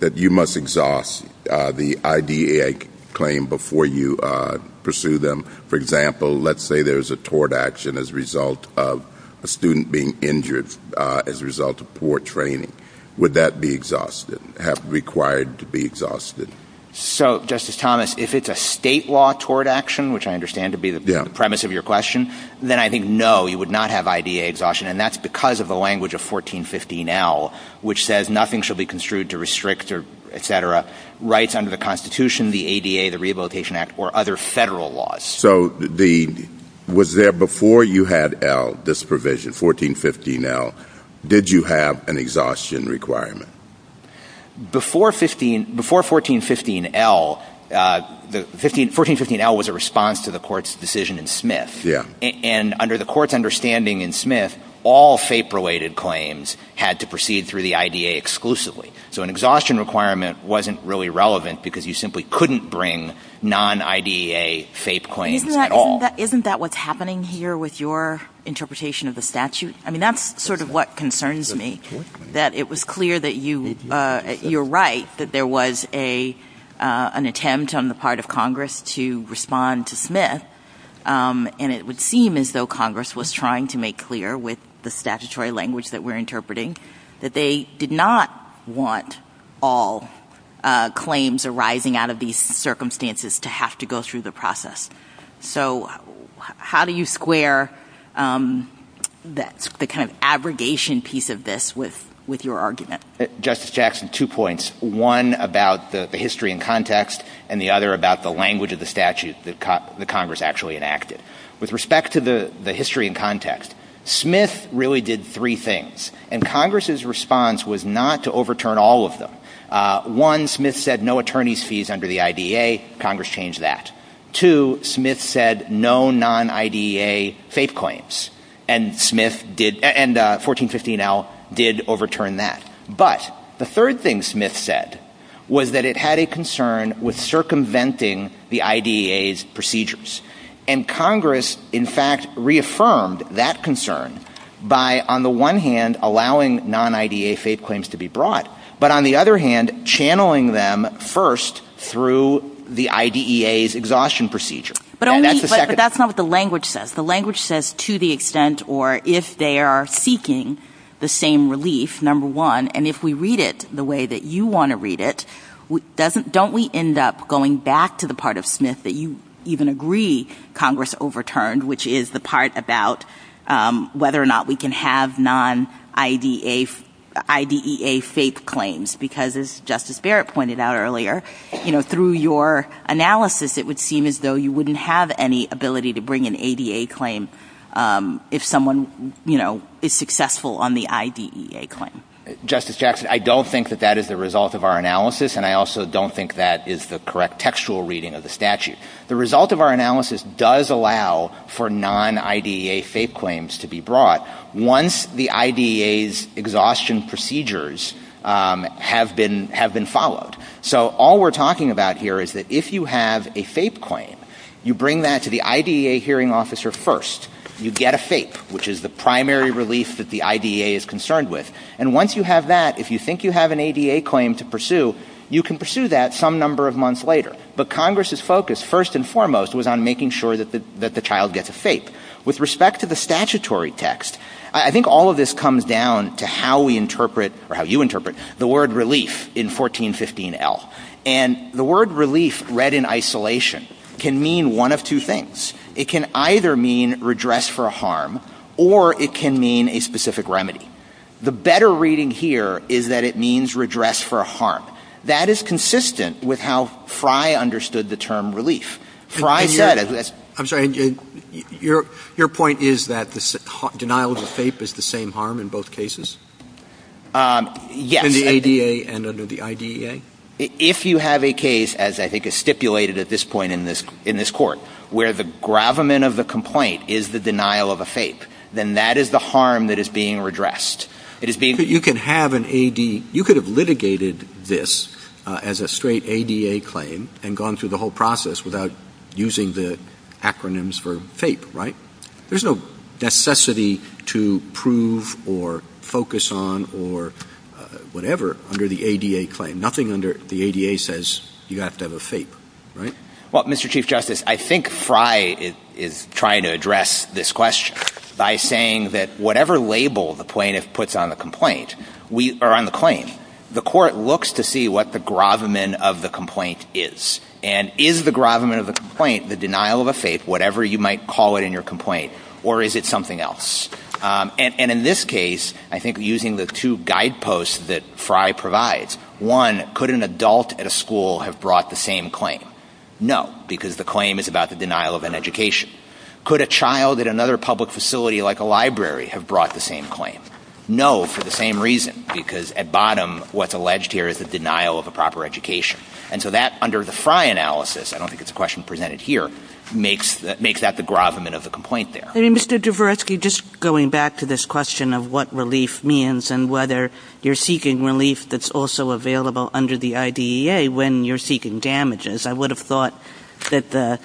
that you must exhaust the IDEA claim before you pursue them? For example, let's say there's a tort action as a result of a student being injured as a result of poor training. Would that be required to be exhausted? Justice Thomas, if it's a state law tort action, which I understand to be the premise of your question, then I think no, you would not have IDEA exhaustion, and that's because of the language of 1415L, which says nothing should be construed to restrict rights under the Constitution, the ADA, the Rehabilitation Act, or other federal laws. So was there, before you had L, this provision, 1415L, did you have an exhaustion requirement? Before 1415L, 1415L was a response to the Court's decision in Smith. And under the Court's understanding in Smith, all FAPE-related claims had to proceed through the IDEA exclusively. So an exhaustion requirement wasn't really relevant because you simply couldn't bring non-IDEA FAPE claims at all. Isn't that what's happening here with your interpretation of the statute? I mean, that's sort of what concerns me, that it was clear that you were right, that there was an attempt on the part of Congress to respond to Smith, and it would seem as though Congress was trying to make clear with the statutory language that we're interpreting that they did not want all claims arising out of these circumstances to have to go through the process. So how do you square the kind of abrogation piece of this with your argument? Justice Jackson, two points, one about the history and context, and the other about the language of the statute that Congress actually enacted. With respect to the history and context, Smith really did three things, and Congress's response was not to overturn all of them. One, Smith said no attorney's fees under the IDEA, Congress changed that. Two, Smith said no non-IDEA FAPE claims, and 1415L did overturn that. But the third thing Smith said was that it had a concern with circumventing the IDEA's procedures, and Congress, in fact, reaffirmed that concern by, on the one hand, allowing non-IDEA FAPE claims to be brought, but on the other hand, channeling them first through the IDEA's exhaustion procedure. But that's not what the language says. If the language says to the extent or if they are seeking the same relief, number one, and if we read it the way that you want to read it, don't we end up going back to the part of Smith that you even agree Congress overturned, which is the part about whether or not we can have non-IDEA FAPE claims, because as Justice Barrett pointed out earlier, you know, through your analysis, it would seem as though you wouldn't have any ability to bring an ADA claim if someone, you know, is successful on the IDEA claim. Justice Jackson, I don't think that that is the result of our analysis, and I also don't think that is the correct textual reading of the statute. The result of our analysis does allow for non-IDEA FAPE claims to be brought once the IDEA's exhaustion procedures have been followed. So all we're talking about here is that if you have a FAPE claim, you bring that to the IDEA hearing officer first. You get a FAPE, which is the primary relief that the IDEA is concerned with, and once you have that, if you think you have an ADA claim to pursue, you can pursue that some number of months later. But Congress's focus, first and foremost, was on making sure that the child gets a FAPE. With respect to the statutory text, I think all of this comes down to how we interpret, or how you interpret, the word relief in 1415L. And the word relief read in isolation can mean one of two things. It can either mean redress for a harm, or it can mean a specific remedy. The better reading here is that it means redress for a harm. That is consistent with how Fry understood the term relief. Fry said... I'm sorry, your point is that denial of a FAPE is the same harm in both cases? Yes. In the ADA and under the IDEA? If you have a case, as I think is stipulated at this point in this court, where the gravamen of the complaint is the denial of a FAPE, then that is the harm that is being redressed. You could have litigated this as a straight ADA claim and gone through the whole process without using the acronyms for FAPE, right? There's no necessity to prove or focus on or whatever under the ADA claim. Nothing under the ADA says you have to have a FAPE, right? Well, Mr. Chief Justice, I think Fry is trying to address this question by saying that whatever label the plaintiff puts on the complaint, or on the claim, the court looks to see what the gravamen of the complaint is. And is the gravamen of the complaint the denial of a FAPE, whatever you might call it in your complaint, or is it something else? And in this case, I think using the two guideposts that Fry provides, one, could an adult at a school have brought the same claim? No, because the claim is about the denial of an education. Could a child at another public facility like a library have brought the same claim? No, for the same reason, because at bottom, what's alleged here is the denial of a proper education. And so that, under the Fry analysis, I don't think it's a question presented here, but it makes that the gravamen of the complaint there. Mr. Dvoretsky, just going back to this question of what relief means and whether you're seeking relief that's also available under the IDEA when you're seeking damages, I would have thought that the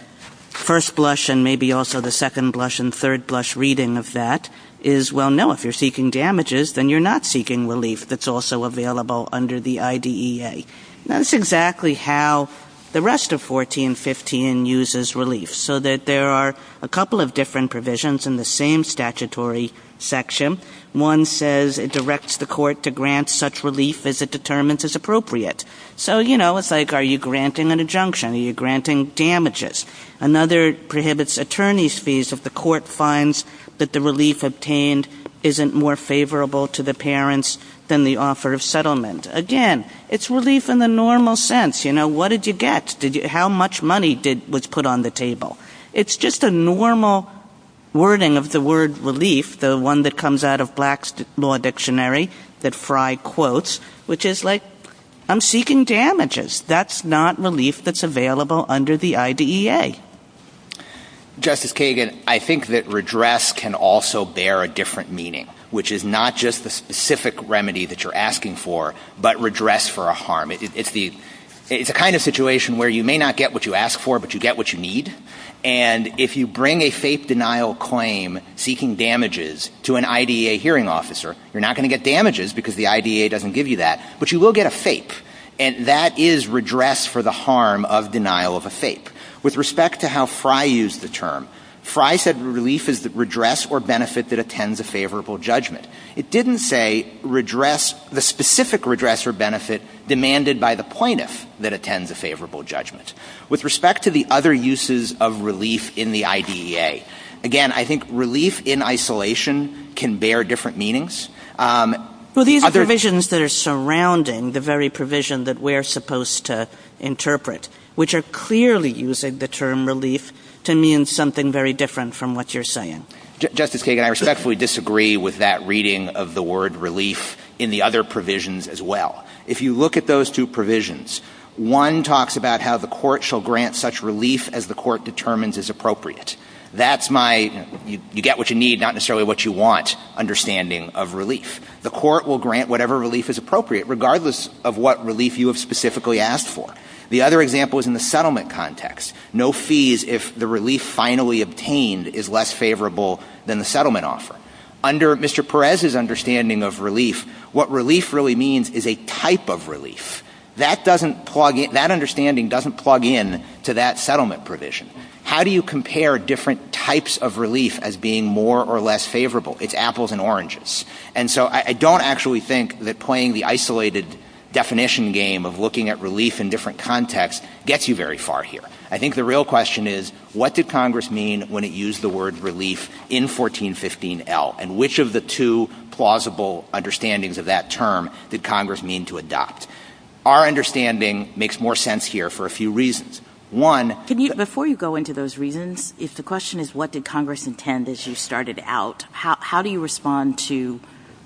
first blush and maybe also the second blush and third blush reading of that is, well, no, if you're seeking damages, then you're not seeking relief that's also available under the IDEA. That's exactly how the rest of 1415 uses relief, so that there are a couple of different provisions in the same statutory section. One says it directs the court to grant such relief as it determines is appropriate. So, you know, it's like, are you granting an injunction? Are you granting damages? Another prohibits attorney's fees if the court finds that the relief obtained isn't more favorable to the parents than the offer of settlement. Again, it's relief in the normal sense. You know, what did you get? How much money was put on the table? It's just a normal wording of the word relief, the one that comes out of Black's Law Dictionary, that Fry quotes, which is like, I'm seeking damages. That's not relief that's available under the IDEA. Justice Kagan, I think that redress can also bear a different meaning, which is not just the specific remedy that you're asking for, but redress for a harm. It's a kind of situation where you may not get what you ask for, but you get what you need, and if you bring a fake denial claim seeking damages to an IDEA hearing officer, you're not going to get damages because the IDEA doesn't give you that, but you will get a fake, and that is redress for the harm of denial of a fake. With respect to how Fry used the term, Fry said relief is the redress or benefit that attends a favorable judgment. It didn't say redress, the specific redress or benefit demanded by the plaintiff that attends a favorable judgment. With respect to the other uses of relief in the IDEA, again, I think relief in isolation can bear different meanings. Well, these provisions that are surrounding the very provision that we're supposed to interpret, which are clearly using the term relief to mean something very different from what you're saying. Justice Kagan, I respectfully disagree with that reading of the word relief in the other provisions as well. If you look at those two provisions, one talks about how the court shall grant such relief as the court determines is appropriate. That's my you get what you need, not necessarily what you want understanding of relief. The court will grant whatever relief is appropriate, regardless of what relief you have specifically asked for. The other example is in the settlement context. No fees if the relief finally obtained is less favorable than the settlement offer. Under Mr. Perez's understanding of relief, what relief really means is a type of relief. That understanding doesn't plug in to that settlement provision. How do you compare different types of relief as being more or less favorable? It's apples and oranges. And so I don't actually think that playing the isolated definition game of looking at relief in different contexts gets you very far here. I think the real question is, what did Congress mean when it used the word relief in 1415L, and which of the two plausible understandings of that term did Congress mean to adopt? Our understanding makes more sense here for a few reasons. Before you go into those reasons, the question is, what did Congress intend as you started out? How do you respond to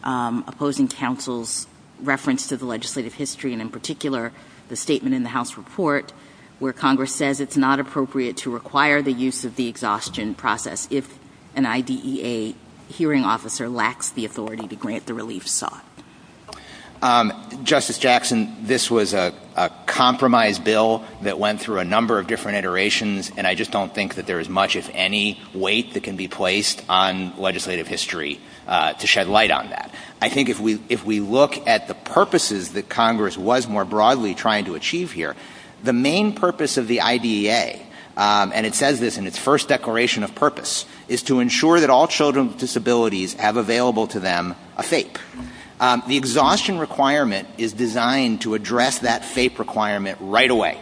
opposing counsel's reference to the legislative history, and in particular the statement in the House report where Congress says it's not appropriate to require the use of the exhaustion process if an IDEA hearing officer lacks the authority to grant the relief sought? Justice Jackson, this was a compromise bill that went through a number of different iterations, and I just don't think that there is much, if any, weight that can be placed on legislative history to shed light on that. I think if we look at the purposes that Congress was more broadly trying to achieve here, the main purpose of the IDEA, and it says this in its first declaration of purpose, is to ensure that all children with disabilities have available to them a FAPE. The exhaustion requirement is designed to address that FAPE requirement right away.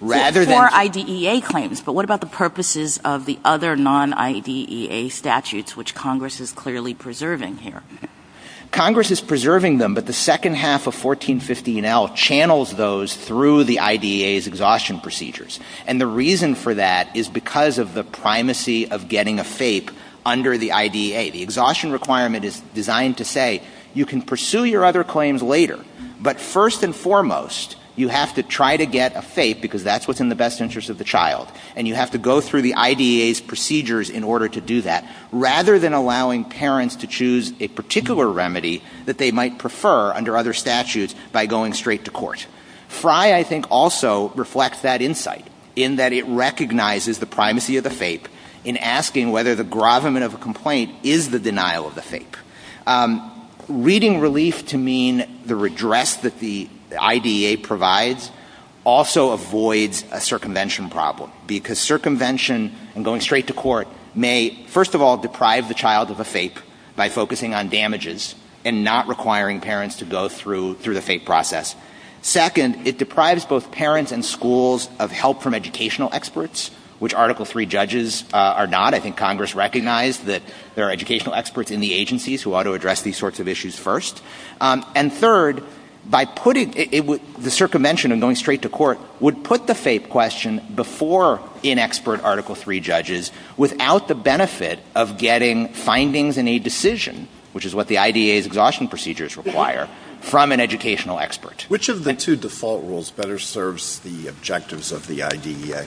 That's for IDEA claims, but what about the purposes of the other non-IDEA statutes which Congress is clearly preserving here? Congress is preserving them, but the second half of 1415L channels those through the IDEA's exhaustion procedures, and the reason for that is because of the primacy of getting a FAPE under the IDEA. The exhaustion requirement is designed to say you can pursue your other claims later, but first and foremost, you have to try to get a FAPE because that's what's in the best interest of the child, and you have to go through the IDEA's procedures in order to do that. Rather than allowing parents to choose a particular remedy that they might prefer under other statutes by going straight to court. FRI, I think, also reflects that insight in that it recognizes the primacy of the FAPE in asking whether the grovelment of a complaint is the denial of the FAPE. Reading relief to mean the redress that the IDEA provides also avoids a circumvention problem because circumvention and going straight to court may, first of all, deprive the child of a FAPE by focusing on damages and not requiring parents to go through the FAPE process. Second, it deprives both parents and schools of help from educational experts, which Article III judges are not. I think Congress recognized that there are educational experts in the agencies who ought to address these sorts of issues first. And third, the circumvention and going straight to court would put the FAPE question before inexpert Article III judges without the benefit of getting findings in a decision, which is what the IDEA's exhaustion procedures require, from an educational expert. Which of the two default rules better serves the objectives of the IDEA?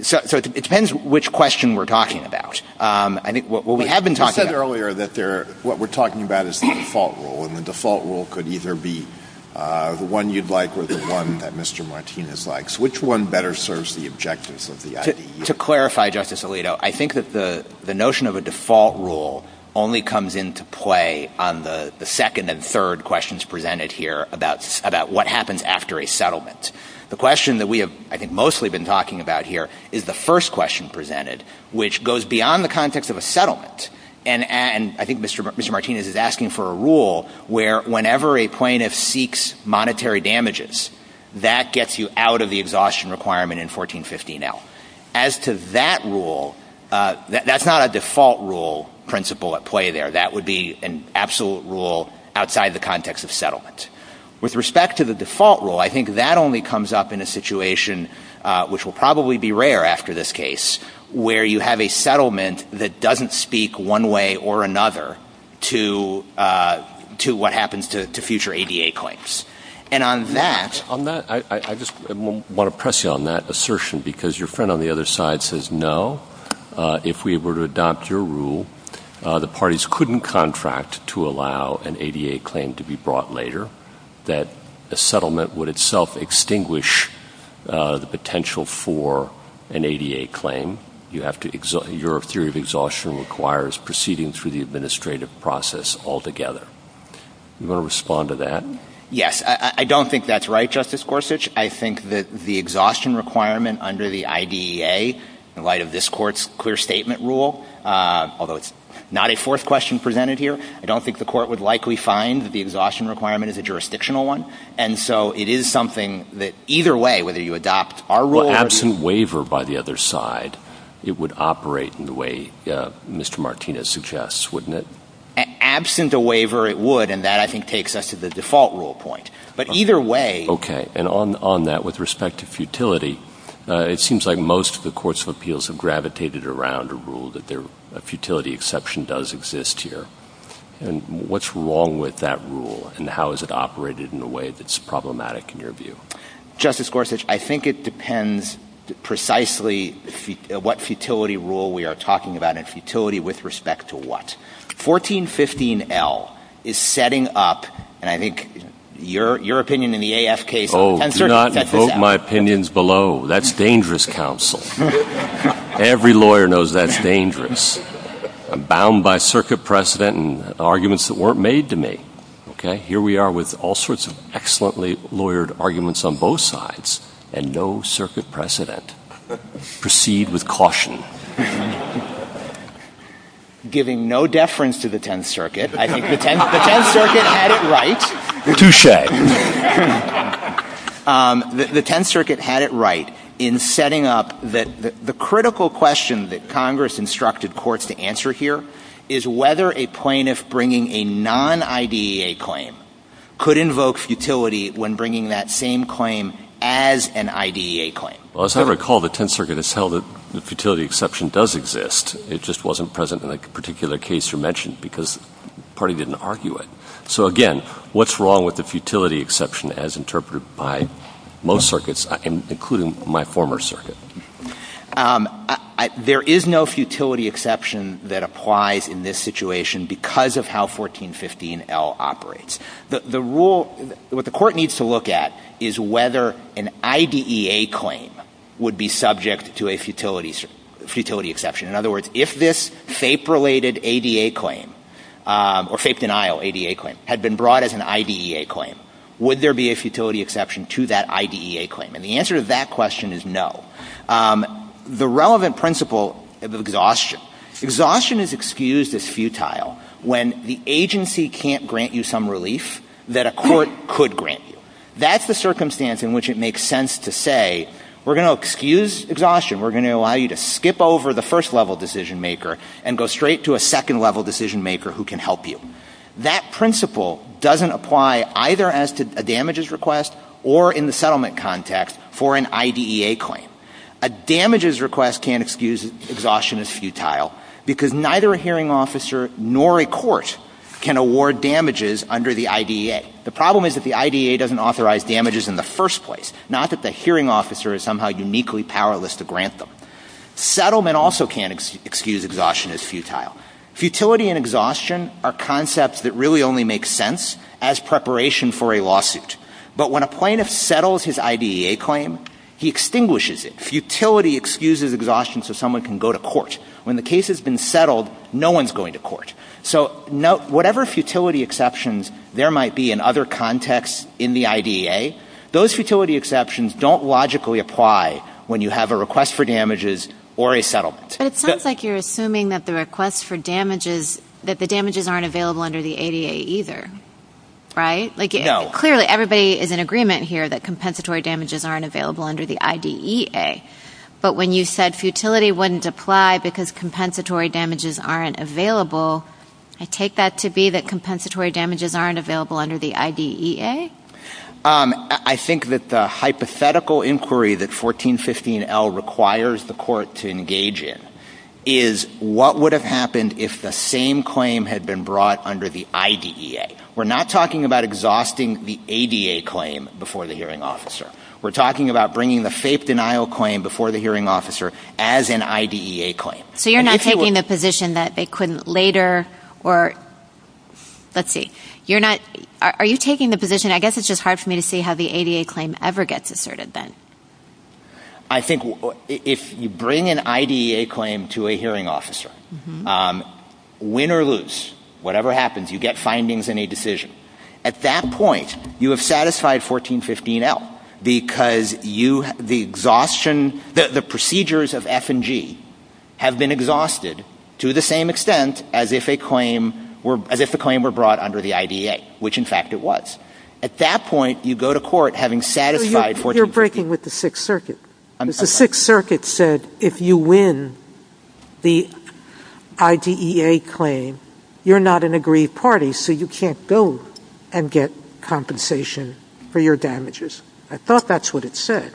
It depends which question we're talking about. What we have been talking about... You said earlier that what we're talking about is the default rule, and the default rule could either be the one you'd like or the one that Mr. Martinez likes. Which one better serves the objectives of the IDEA? To clarify, Justice Alito, I think that the notion of a default rule only comes into play on the second and third questions presented here about what happens after a settlement. The question that we have, I think, mostly been talking about here is the first question presented, which goes beyond the context of a settlement. I think Mr. Martinez is asking for a rule where whenever a plaintiff seeks monetary damages, that gets you out of the exhaustion requirement in 1415L. As to that rule, that's not a default rule principle at play there. That would be an absolute rule outside the context of settlement. With respect to the default rule, I think that only comes up in a situation, which will probably be rare after this case, where you have a settlement that doesn't speak one way or another to what happens to future ADA claims. On that, I just want to press you on that assertion, because your friend on the other side says no. If we were to adopt your rule, the parties couldn't contract to allow an ADA claim to be brought later, that a settlement would itself extinguish the potential for an ADA claim. Your theory of exhaustion requires proceeding through the administrative process altogether. Do you want to respond to that? Yes. I don't think that's right, Justice Gorsuch. I think that the exhaustion requirement under the IDEA, in light of this Court's clear statement rule, although it's not a fourth question presented here, I don't think the Court would likely find that the exhaustion requirement is a jurisdictional one. And so it is something that either way, whether you adopt our rule or... Absent waiver by the other side, it would operate in the way Mr. Martinez suggests, wouldn't it? Absent a waiver, it would, and that, I think, takes us to the default rule point. But either way... Okay. And on that, with respect to futility, it seems like most of the courts of appeals have gravitated around a rule that a futility exception does exist here. And what's wrong with that rule, and how is it operated in a way that's problematic in your view? Justice Gorsuch, I think it depends precisely what futility rule we are talking about and futility with respect to what. 1415L is setting up, and I think your opinion in the AFK... Oh, do not invoke my opinions below. That's dangerous counsel. Every lawyer knows that's dangerous. I'm bound by circuit precedent and arguments that weren't made to me. Okay? Here we are with all sorts of excellently lawyered arguments on both sides and no circuit precedent. Proceed with caution. Giving no deference to the Tenth Circuit. I think the Tenth Circuit had it right. Touche. The Tenth Circuit had it right in setting up that the critical question that Congress instructed courts to answer here is whether a plaintiff bringing a non-IDEA claim could invoke futility when bringing that same claim as an IDEA claim. Well, as I recall, the Tenth Circuit has held that the futility exception does exist. It just wasn't present in a particular case you mentioned because the party didn't argue it. So, again, what's wrong with the futility exception as interpreted by most circuits, including my former circuit? There is no futility exception that applies in this situation because of how 1415L operates. What the court needs to look at is whether an IDEA claim would be subject to a futility exception. In other words, if this FAPE-related ADA claim or FAPE-denial ADA claim had been brought as an IDEA claim, would there be a futility exception to that IDEA claim? And the answer to that question is no. The relevant principle of exhaustion. Exhaustion is excused as futile when the agency can't grant you some relief that a court could grant you. That's the circumstance in which it makes sense to say we're going to excuse exhaustion. We're going to allow you to skip over the first-level decision-maker and go straight to a second-level decision-maker who can help you. That principle doesn't apply either as to a damages request or in the settlement context for an IDEA claim. A damages request can't excuse exhaustion as futile because neither a hearing officer nor a court can award damages under the IDEA. The problem is that the IDEA doesn't authorize damages in the first place, not that the hearing officer is somehow uniquely powerless to grant them. Settlement also can't excuse exhaustion as futile. Futility and exhaustion are concepts that really only make sense as preparation for a lawsuit. But when a plaintiff settles his IDEA claim, he extinguishes it. Futility excuses exhaustion so someone can go to court. When the case has been settled, no one's going to court. So whatever futility exceptions there might be in other contexts in the IDEA, those futility exceptions don't logically apply when you have a request for damages or a settlement. But it sounds like you're assuming that the request for damages, that the damages aren't available under the ADA either, right? No. Clearly, everybody is in agreement here that compensatory damages aren't available under the IDEA. But when you said futility wouldn't apply because compensatory damages aren't available, I take that to be that compensatory damages aren't available under the IDEA? I think that the hypothetical inquiry that 1415L requires the court to engage in is what would have happened if the same claim had been brought under the IDEA. We're not talking about exhausting the ADA claim before the hearing officer. We're talking about bringing the fake denial claim before the hearing officer as an IDEA claim. So you're not taking the position that they couldn't later or, let's see, you're not, are you taking the position, I guess it's just hard for me to see how the ADA claim ever gets asserted then? I think if you bring an IDEA claim to a hearing officer, win or lose, whatever happens, you get findings in a decision, at that point you have satisfied 1415L because the procedures of F and G have been exhausted to the same extent as if a claim were brought under the IDEA, which in fact it was. At that point, you go to court having satisfied 1415L. You're breaking with the Sixth Circuit. The Sixth Circuit said if you win the IDEA claim, you're not an aggrieved party, so you can't go and get compensation for your damages. I thought that's what it said.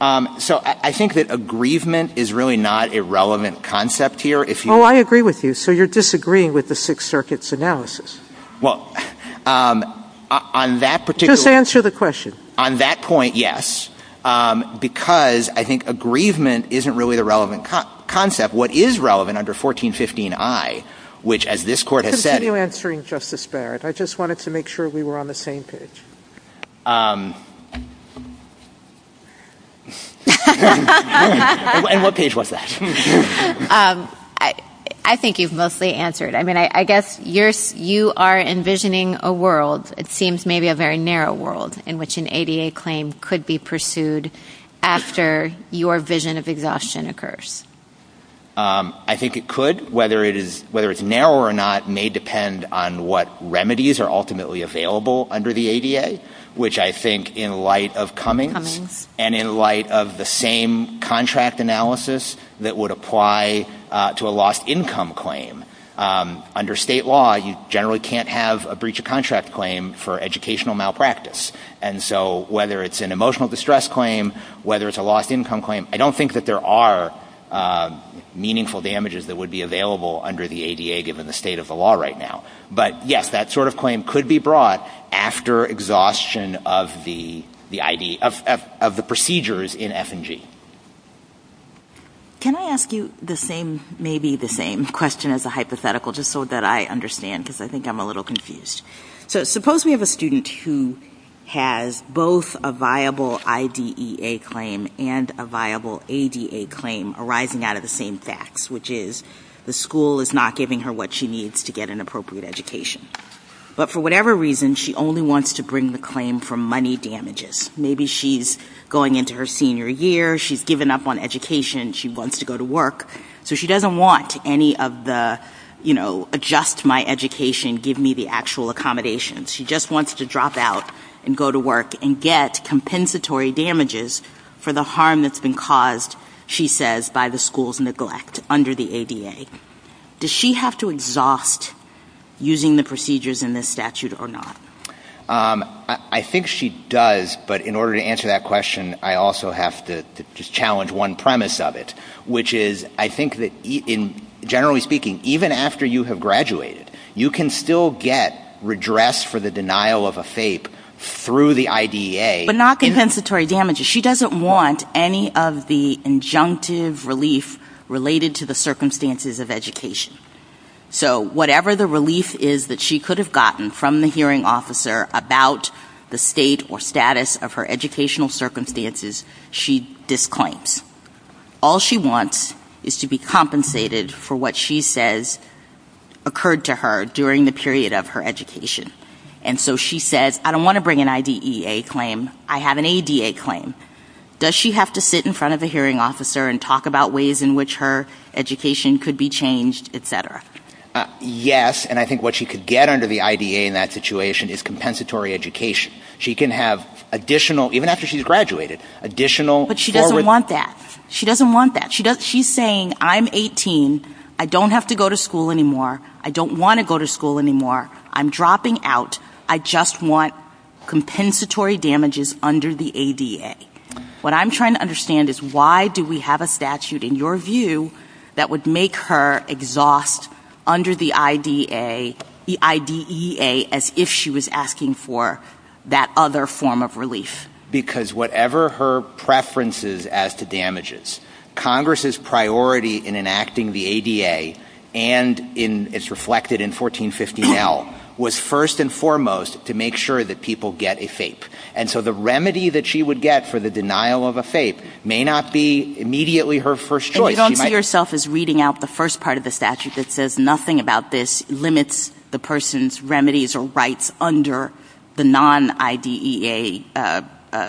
So I think that aggrievement is really not a relevant concept here. Oh, I agree with you. So you're disagreeing with the Sixth Circuit's analysis. Just answer the question. On that point, yes, because I think aggrievement isn't really the relevant concept. What is relevant under 1415I, which as this Court has said Continue answering, Justice Barrett. I just wanted to make sure we were on the same page. And what page was that? I think you've mostly answered. I mean, I guess you are envisioning a world, it seems maybe a very narrow world, in which an ADA claim could be pursued after your vision of exhaustion occurs. I think it could. Whether it's narrow or not may depend on what remedies are ultimately available under the ADA. Which I think in light of Cummings and in light of the same contract analysis that would apply to a lost income claim. Under state law, you generally can't have a breach of contract claim for educational malpractice. And so whether it's an emotional distress claim, whether it's a lost income claim, I don't think that there are meaningful damages that would be available under the ADA given the state of the law right now. But yes, that sort of claim could be brought after exhaustion of the procedures in F&G. Can I ask you maybe the same question as a hypothetical just so that I understand because I think I'm a little confused. So suppose we have a student who has both a viable IDEA claim and a viable ADA claim arising out of the same facts, which is the school is not giving her what she needs to get an appropriate education. But for whatever reason, she only wants to bring the claim for money damages. Maybe she's going into her senior year. She's given up on education. She wants to go to work. So she doesn't want any of the, you know, adjust my education, give me the actual accommodations. She just wants to drop out and go to work and get compensatory damages for the harm that's been caused, she says, by the school's neglect under the ADA. Does she have to exhaust using the procedures in this statute or not? I think she does, but in order to answer that question, I also have to just challenge one premise of it, which is I think that generally speaking, even after you have graduated, you can still get redress for the denial of a FAPE through the IDEA. But not compensatory damages. She doesn't want any of the injunctive relief related to the circumstances of education. So whatever the relief is that she could have gotten from the hearing officer about the state or status of her educational circumstances, she disclaims. All she wants is to be compensated for what she says occurred to her during the period of her education. And so she says, I don't want to bring an IDEA claim, I have an ADA claim. Does she have to sit in front of the hearing officer and talk about ways in which her education could be changed, et cetera? Yes, and I think what she could get under the IDEA in that situation is compensatory education. She can have additional, even after she's graduated, additional... But she doesn't want that. She doesn't want that. She's saying, I'm 18, I don't have to go to school anymore, I don't want to go to school anymore, I'm dropping out, I just want compensatory damages under the ADA. What I'm trying to understand is why do we have a statute, in your view, that would make her exhaust under the IDEA as if she was asking for that other form of relief? Because whatever her preferences as to damages, Congress's priority in enacting the ADA and it's reflected in 1415L was first and foremost to make sure that people get a FAPE. And so the remedy that she would get for the denial of a FAPE may not be immediately her first choice. And you don't see yourself as reading out the first part of the statute that says nothing about this limits the person's remedies or rights under the non-IDEA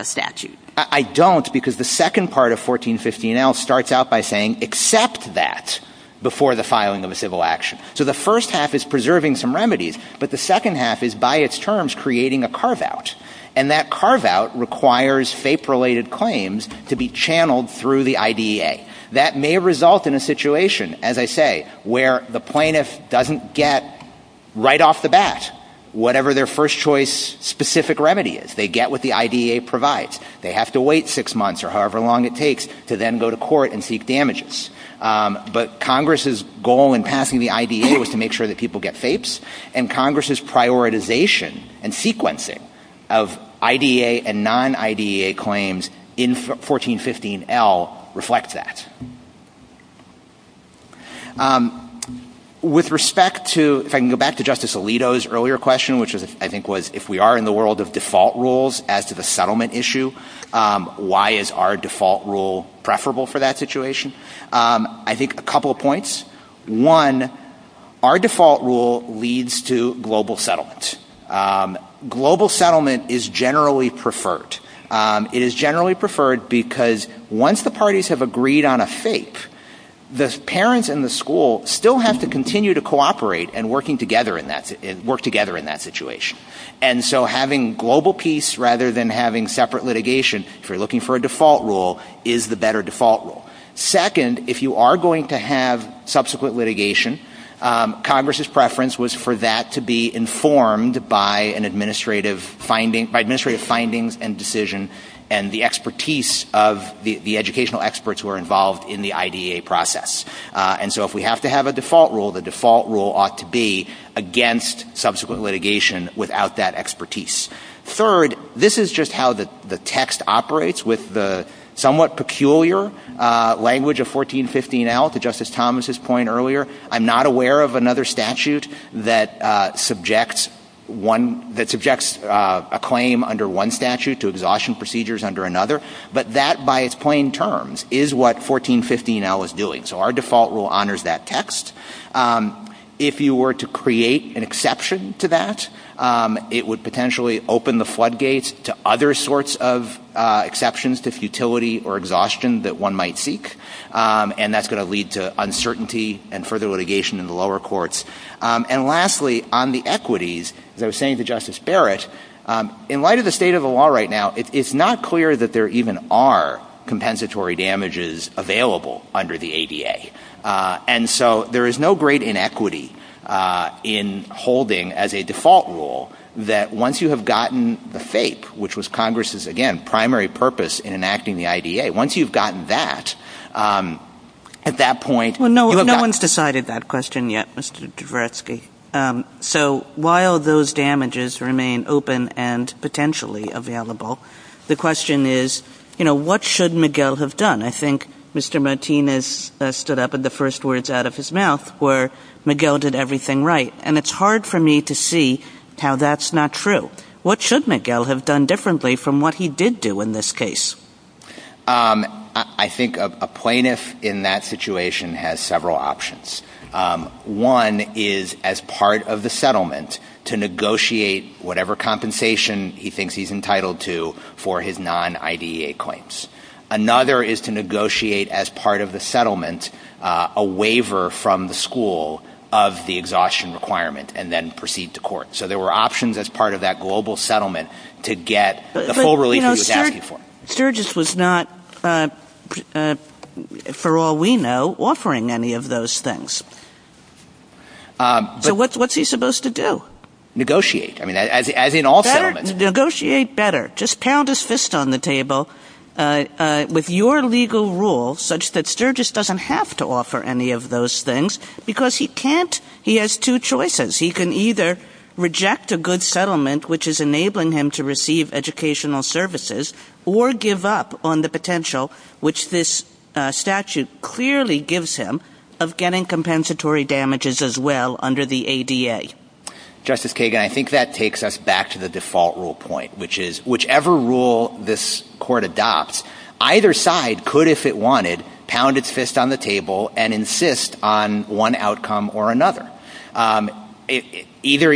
statute? I don't, because the second part of 1415L starts out by saying, accept that before the filing of a civil action. So the first half is preserving some remedies, but the second half is, by its terms, creating a carve-out. And that carve-out requires FAPE-related claims to be channeled through the IDEA. That may result in a situation, as I say, where the plaintiff doesn't get right off the bat whatever their first choice specific remedy is. They get what the IDEA provides. They have to wait six months or however long it takes to then go to court and seek damages. But Congress's goal in passing the IDEA was to make sure that people get FAPEs, and Congress's prioritization and sequencing of IDEA and non-IDEA claims in 1415L reflect that. With respect to, if I can go back to Justice Alito's earlier question, which I think was, if we are in the world of default rules as to the settlement issue, why is our default rule preferable for that situation? I think a couple of points. One, our default rule leads to global settlement. Global settlement is generally preferred. It is generally preferred because once the parties have agreed on a FAPE, the parents in the school still have to continue to cooperate and work together in that situation. And so having global peace rather than having separate litigation, if you're looking for a default rule, is the better default rule. Second, if you are going to have subsequent litigation, Congress's preference was for that to be informed by administrative findings and decision and the expertise of the educational experts who are involved in the IDEA process. And so if we have to have a default rule, the default rule ought to be against subsequent litigation without that expertise. Third, this is just how the text operates with the somewhat peculiar language of 1415L. To Justice Thomas' point earlier, I'm not aware of another statute that subjects a claim under one statute to exhaustion procedures under another. But that, by its plain terms, is what 1415L is doing. So our default rule honors that text. If you were to create an exception to that, it would potentially open the floodgates to other sorts of exceptions to futility or exhaustion that one might seek, and that's going to lead to uncertainty and further litigation in the lower courts. And lastly, on the equities, as I was saying to Justice Barrett, in light of the state of the law right now, it's not clear that there even are compensatory damages available under the IDEA. And so there is no great inequity in holding, as a default rule, that once you have gotten the FAPE, which was Congress's, again, primary purpose in enacting the IDEA, once you've gotten that, at that point you have gotten... Well, no one's decided that question yet, Mr. Dvoretsky. So while those damages remain open and potentially available, the question is, you know, what should Miguel have done? I think Mr. Martinez stood up and the first words out of his mouth were, Miguel did everything right. And it's hard for me to see how that's not true. What should Miguel have done differently from what he did do in this case? I think a plaintiff in that situation has several options. One is, as part of the settlement, to negotiate whatever compensation he thinks he's entitled to for his non-IDEA claims. Another is to negotiate, as part of the settlement, a waiver from the school of the exhaustion requirement, and then proceed to court. So there were options as part of that global settlement to get the full relief he was asking for. But Sturgis was not, for all we know, offering any of those things. So what's he supposed to do? Negotiate. I mean, as in all settlements. Negotiate better. Just pound his fist on the table with your legal rule, such that Sturgis doesn't have to offer any of those things, because he has two choices. He can either reject a good settlement, which is enabling him to receive educational services, or give up on the potential, which this statute clearly gives him, of getting compensatory damages as well under the ADA. Justice Kagan, I think that takes us back to the default rule point, which is, whichever rule this court adopts, either side could, if it wanted, pound its fist on the table and insist on one outcome or another. Either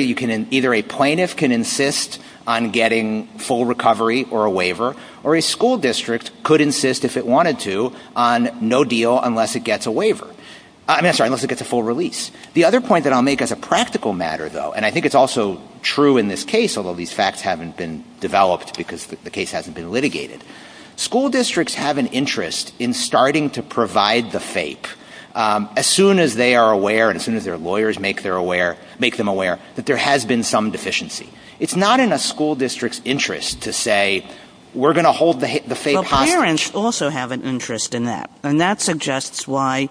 a plaintiff can insist on getting full recovery or a waiver, or a school district could insist, if it wanted to, on no deal unless it gets a full release. The other point that I'll make as a practical matter, though, and I think it's also true in this case, although these facts haven't been developed because the case hasn't been litigated, school districts have an interest in starting to provide the FAPE. As soon as they are aware, and as soon as their lawyers make them aware, that there has been some deficiency. It's not in a school district's interest to say, we're going to hold the FAPE high. Parents also have an interest in that, and that suggests why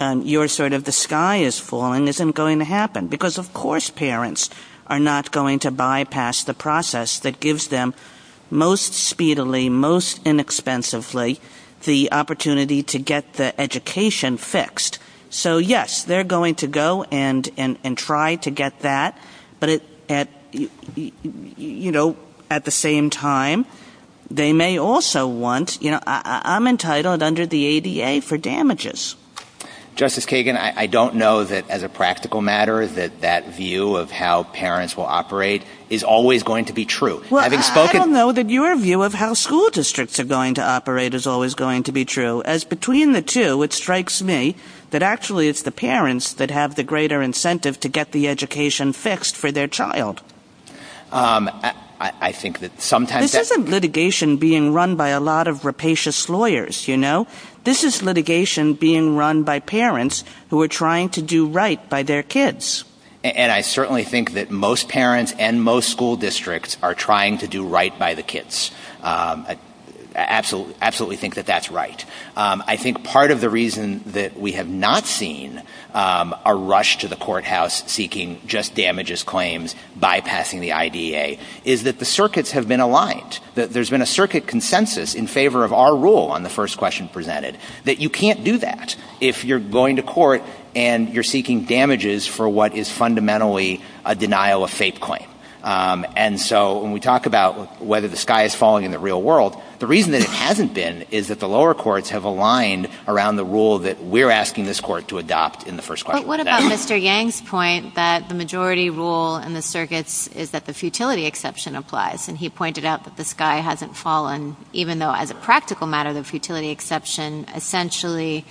your sort of the sky is falling isn't going to happen, because of course parents are not going to bypass the process that gives them, most speedily, most inexpensively, the opportunity to get the education fixed. So yes, they're going to go and try to get that, but at the same time they may also want, I'm entitled under the ADA for damages. Justice Kagan, I don't know that as a practical matter that that view of how parents will operate is always going to be true. I don't know that your view of how school districts are going to operate is always going to be true, as between the two it strikes me that actually it's the parents that have the greater incentive to get the education fixed for their child. This isn't litigation being run by a lot of rapacious lawyers, you know. This is litigation being run by parents who are trying to do right by their kids. And I certainly think that most parents and most school districts are trying to do right by the kids. I absolutely think that that's right. I think part of the reason that we have not seen a rush to the courthouse seeking just damages claims bypassing the IDEA is that the circuits have been aligned. There's been a circuit consensus in favor of our rule on the first question presented that you can't do that if you're going to court and you're seeking damages for what is fundamentally a denial of faith claim. And so when we talk about whether the sky is falling in the real world, the reason that it hasn't been is that the lower courts have aligned around the rule that we're asking this court to adopt in the first question. But what about Mr. Yang's point that the majority rule in the circuits is that the futility exception applies and he pointed out that the sky hasn't fallen even though as a practical matter the futility exception essentially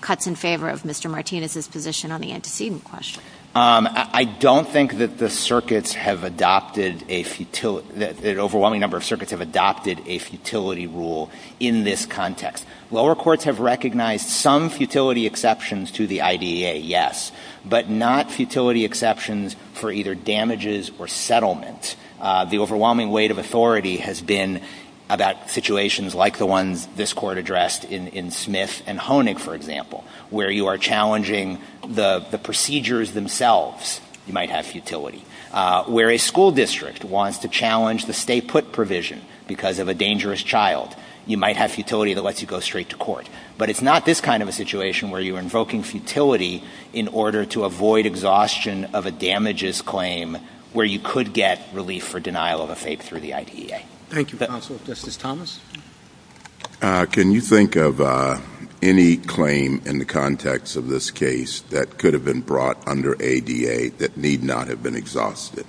cuts in favor of Mr. Martinez's position on the antecedent question. I don't think that the circuits have adopted a futility, that an overwhelming number of circuits have adopted a futility rule in this context. Lower courts have recognized some futility exceptions to the IDEA, yes, but not futility exceptions for either damages or settlements. The overwhelming weight of authority has been about situations like the one this court addressed in Smith and Honig, for example, where you are challenging the procedures themselves, you might have futility. Where a school district wants to challenge the stay-put provision because of a dangerous child, you might have futility that lets you go straight to court. But it's not this kind of a situation where you're invoking futility in order to avoid exhaustion of a damages claim where you could get relief for denial of faith through the IDEA. Thank you, counsel. Justice Thomas? Can you think of any claim in the context of this case that could have been brought under ADA that need not have been exhausted?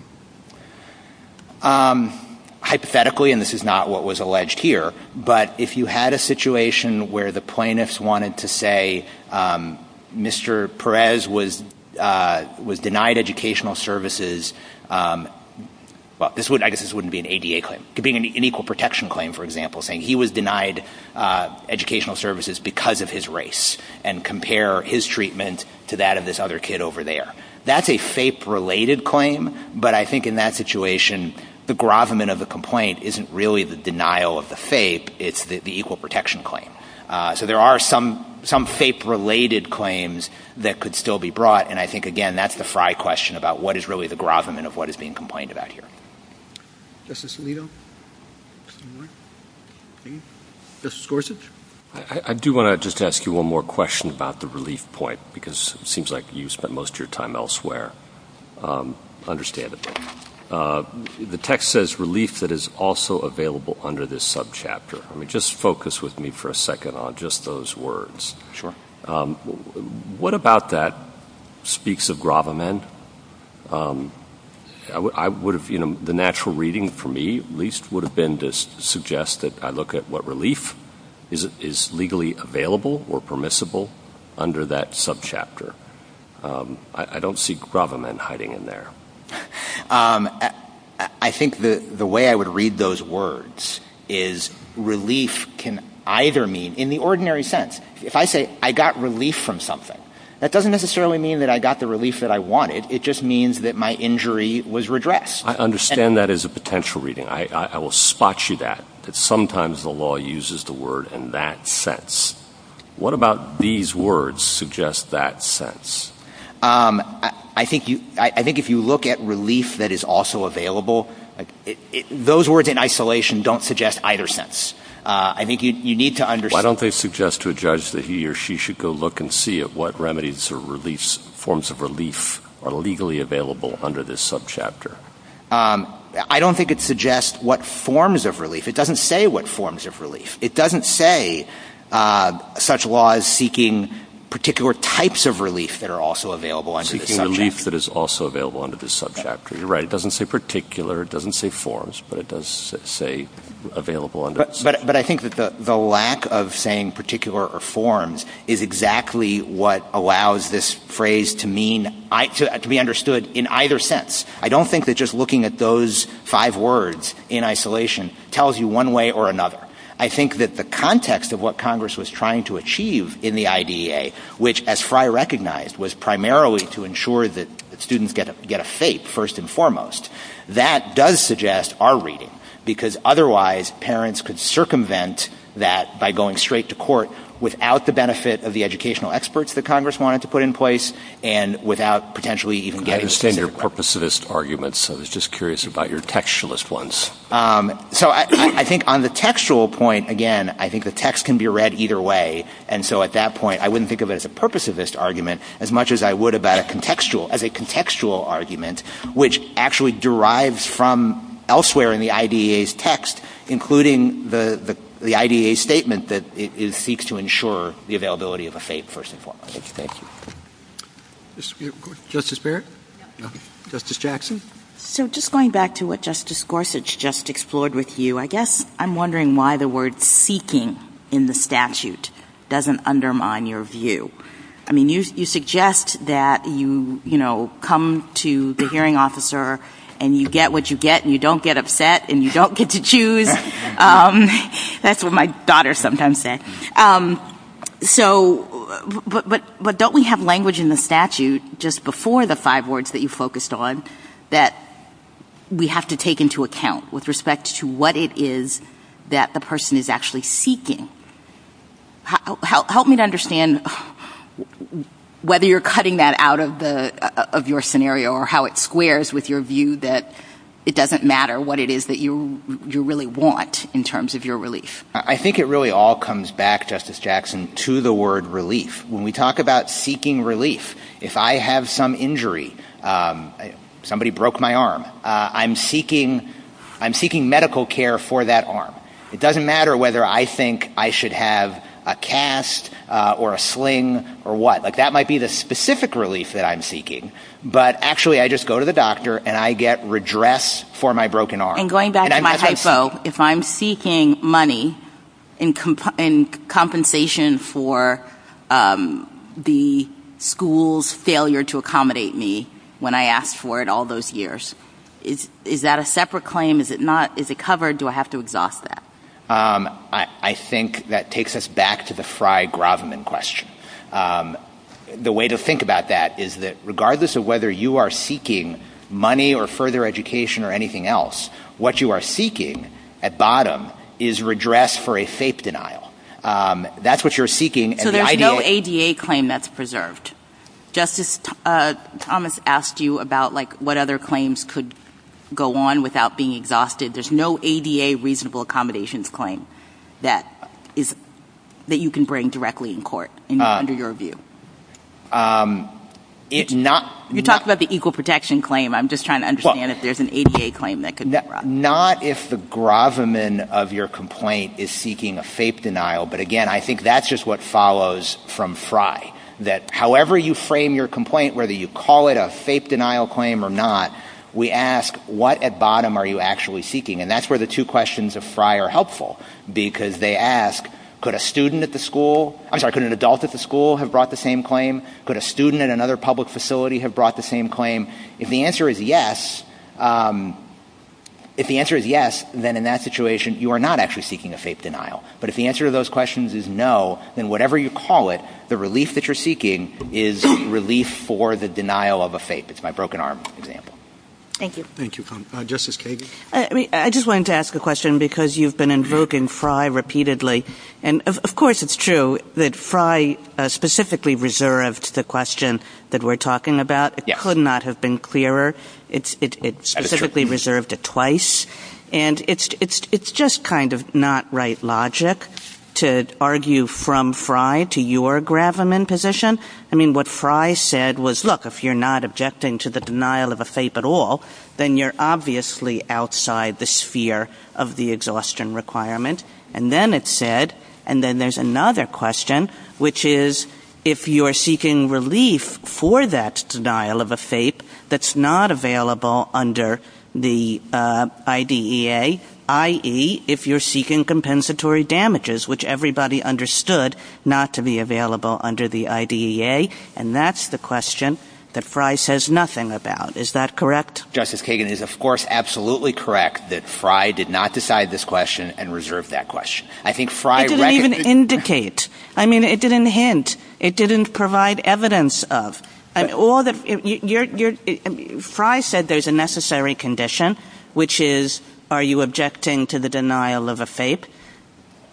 Hypothetically, and this is not what was alleged here, but if you had a situation where the plaintiffs wanted to say Mr. Perez was denied educational services, well, I guess this wouldn't be an ADA claim. It could be an equal protection claim, for example, saying he was denied educational services because of his race and compare his treatment to that of this other kid over there. That's a FAPE-related claim, but I think in that situation, the grovement of the complaint isn't really the denial of the FAPE, it's the equal protection claim. So there are some FAPE-related claims that could still be brought, and I think, again, that's the fry question about what is really the grovement of what is being complained about here. Justice Alito? Justice Gorsuch? I do want to just ask you one more question about the relief point, because it seems like you've spent most of your time elsewhere. I understand it. The text says relief that is also available under this subchapter. Just focus with me for a second on just those words. Sure. What about that speaks of grovement? The natural reading for me, at least, would have been to suggest that I look at what relief is legally available or permissible under that subchapter. I don't see grovement hiding in there. I think the way I would read those words is relief can either mean, in the ordinary sense, if I say I got relief from something, that doesn't necessarily mean that I got the relief that I wanted. It just means that my injury was redressed. I understand that as a potential reading. I will spot you that, that sometimes the law uses the word in that sense. What about these words suggest that sense? I think if you look at relief that is also available, those words in isolation don't suggest either sense. I think you need to understand that. I suggest to a judge that he or she should go look and see at what remedies or forms of relief are legally available under this subchapter. I don't think it suggests what forms of relief. It doesn't say what forms of relief. It doesn't say such law is seeking particular types of relief that are also available under this subchapter. Seeking relief that is also available under this subchapter. You're right. It doesn't say forms, but it does say available under this subchapter. But I think that the lack of saying particular forms is exactly what allows this phrase to be understood in either sense. I don't think that just looking at those five words in isolation tells you one way or another. I think that the context of what Congress was trying to achieve in the IDEA, which as Fry recognized was primarily to ensure that students get a fate first and foremost, that does suggest our reading. Because otherwise parents could circumvent that by going straight to court without the benefit of the educational experts that Congress wanted to put in place and without potentially even getting... I understand your purposivist arguments. I was just curious about your textualist ones. So I think on the textual point, again, I think the text can be read either way. And so at that point, I wouldn't think of it as a purposivist argument as much as I would about a contextual argument, which actually derives from elsewhere in the IDEA's text, including the IDEA's statement that it seeks to ensure the availability of a fate first and foremost. Thank you. Justice Barrett? Justice Jackson? So just going back to what Justice Gorsuch just explored with you, I guess I'm wondering why the word seeking in the statute doesn't undermine your view. I mean, you suggest that you come to the hearing officer and you get what you get and you don't get upset and you don't get to choose. That's what my daughter sometimes says. But don't we have language in the statute just before the five words that you focused on that we have to take into account with respect to what it is that the person is actually seeking? Help me to understand whether you're cutting that out of your scenario or how it squares with your view that it doesn't matter what it is that you really want in terms of your relief. I think it really all comes back, Justice Jackson, to the word relief. When we talk about seeking relief, if I have some injury, somebody broke my arm, I'm seeking medical care for that arm. It doesn't matter whether I think I should have a cast or a sling or what. That might be the specific relief that I'm seeking. But actually, I just go to the doctor and I get redress for my broken arm. And going back to my typo, if I'm seeking money in compensation for the school's failure to accommodate me when I asked for it all those years, is that a separate claim? Is it covered? Do I have to exhaust that? I think that takes us back to the Fry-Gravman question. The way to think about that is that regardless of whether you are seeking money or further education or anything else, what you are seeking at bottom is redress for a FAPE denial. That's what you're seeking. So there's no ADA claim that's preserved? Justice Thomas asked you about what other claims could go on without being exhausted. There's no ADA reasonable accommodations claim that you can bring directly in court under your view? You talked about the equal protection claim. I'm just trying to understand if there's an ADA claim that could be brought. Not if the Gravman of your complaint is seeking a FAPE denial. But again, I think that's just what follows from Fry, that however you frame your complaint, whether you call it a FAPE denial claim or not, we ask what at bottom are you actually seeking? And that's where the two questions of Fry are helpful because they ask could an adult at the school have brought the same claim? Could a student at another public facility have brought the same claim? If the answer is yes, then in that situation, you are not actually seeking a FAPE denial. But if the answer to those questions is no, then whatever you call it, the relief that you're seeking is relief for the denial of a FAPE. It's my broken arm example. Thank you. Thank you. Justice Kagan? I just wanted to ask a question because you've been invoking Fry repeatedly. And of course it's true that Fry specifically reserved the question that we're talking about. It could not have been clearer. It specifically reserved it twice. And it's just kind of not right logic to argue from Fry to your Gravman position. I mean, what Fry said was, look, if you're not objecting to the denial of a FAPE at all, then you're obviously outside the sphere of the exhaustion requirement. And then it said, and then there's another question, which is if you're seeking relief for that denial of a FAPE that's not available under the IDEA, i.e., if you're seeking compensatory damages, which everybody understood not to be available under the IDEA, and that's the question that Fry says nothing about. Is that correct? Justice Kagan, it is, of course, absolutely correct that Fry did not decide this question and reserved that question. I didn't even indicate. I mean, it didn't hint. It didn't provide evidence of. Fry said there's a necessary condition, which is are you objecting to the denial of a FAPE?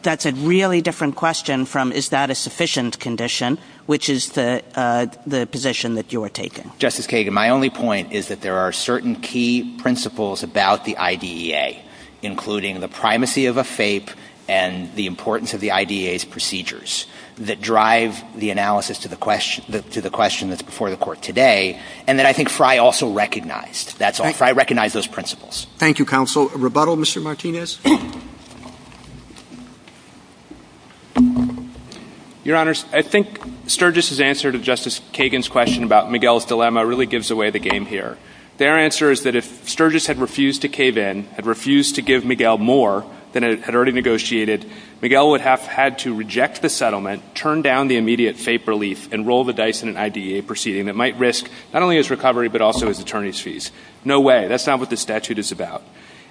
That's a really different question from is that a sufficient condition, which is the position that you are taking. Justice Kagan, my only point is that there are certain key principles about the IDEA, including the primacy of a FAPE and the importance of the IDEA's procedures that drive the analysis to the question that's before the Court today, and that I think Fry also recognized. Fry recognized those principles. Thank you, Counsel. A rebuttal, Mr. Martinez? Your Honors, I think Sturgis's answer to Justice Kagan's question about Miguel's dilemma really gives away the game here. Their answer is that if Sturgis had refused to cave in, had refused to give Miguel more than it had already negotiated, Miguel would have had to reject the settlement, turn down the immediate FAPE relief, and roll the dice in an IDEA proceeding. It might risk not only his recovery but also his attorney's fees. No way. That's not what this statute is about.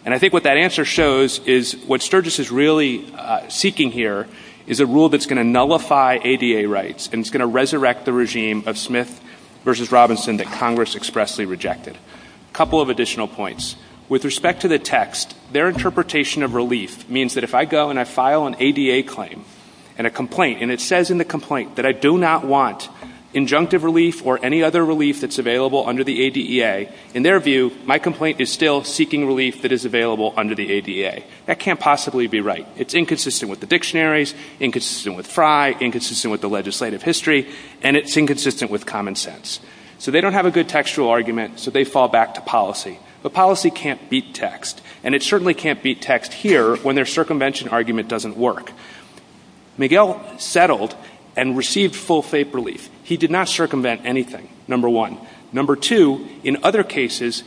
And I think what that answer shows is what Sturgis is really seeking here is a rule that's going to nullify ADA rights and it's going to resurrect the regime of Smith v. Robinson that Congress expressly rejected. A couple of additional points. With respect to the text, their interpretation of relief means that if I go and I file an ADA claim and a complaint, and it says in the complaint that I do not want injunctive relief or any other relief that's available under the ADA, in their view, my complaint is still seeking relief that is available under the ADA. That can't possibly be right. It's inconsistent with the dictionaries, inconsistent with FRI, inconsistent with the legislative history, and it's inconsistent with common sense. So they don't have a good textual argument, so they fall back to policy. But policy can't beat text, and it certainly can't beat text here when their circumvention argument doesn't work. Miguel settled and received full FAPE relief. He did not circumvent anything, number one. Number two, in other cases,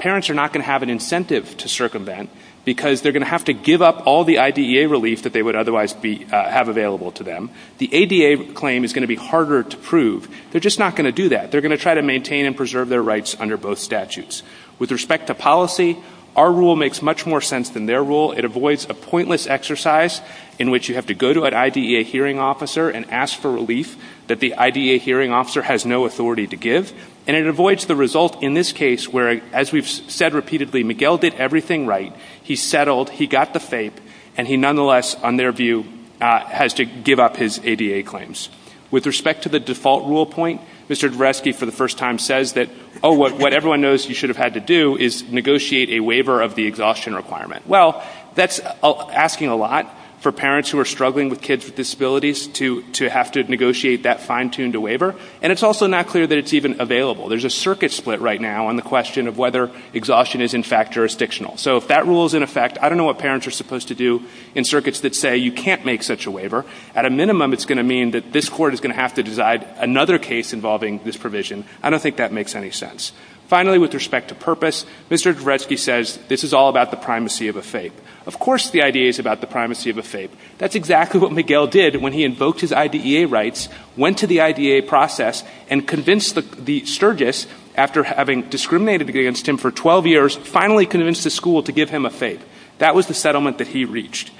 parents are not going to have an incentive to circumvent because they're going to have to give up all the IDEA relief that they would otherwise have available to them. The ADA claim is going to be harder to prove. They're just not going to do that. They're going to try to maintain and preserve their rights under both statutes. With respect to policy, our rule makes much more sense than their rule. It avoids a pointless exercise in which you have to go to an IDEA hearing officer and ask for relief that the IDEA hearing officer has no authority to give, and it avoids the result in this case where, as we've said repeatedly, Miguel did everything right, he settled, he got the FAPE, and he nonetheless, on their view, has to give up his ADA claims. With respect to the default rule point, Mr. Dvoretsky for the first time says that, oh, what everyone knows you should have had to do is negotiate a waiver of the exhaustion requirement. Well, that's asking a lot for parents who are struggling with kids with disabilities to have to negotiate that fine-tuned waiver, and it's also not clear that it's even available. There's a circuit split right now on the question of whether exhaustion is in fact jurisdictional. So if that rule is in effect, I don't know what parents are supposed to do in circuits that say you can't make such a waiver. At a minimum, it's going to mean that this court is going to have to decide another case involving this provision. I don't think that makes any sense. Finally, with respect to purpose, Mr. Dvoretsky says this is all about the primacy of a FAPE. Of course the IDA is about the primacy of a FAPE. That's exactly what Miguel did when he invoked his IDEA rights, went to the IDA process, and convinced the surges, after having discriminated against him for 12 years, finally convinced the school to give him a FAPE. That was the settlement that he reached.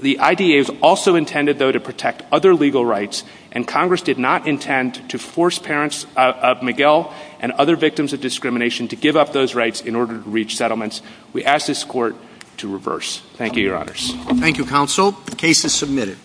The IDA is also intended, though, to protect other legal rights, and Congress did not intend to force parents of Miguel and other victims of discrimination to give up those rights in order to reach settlements. We ask this court to reverse. Thank you, Your Honors. Thank you, Counsel. The case is submitted.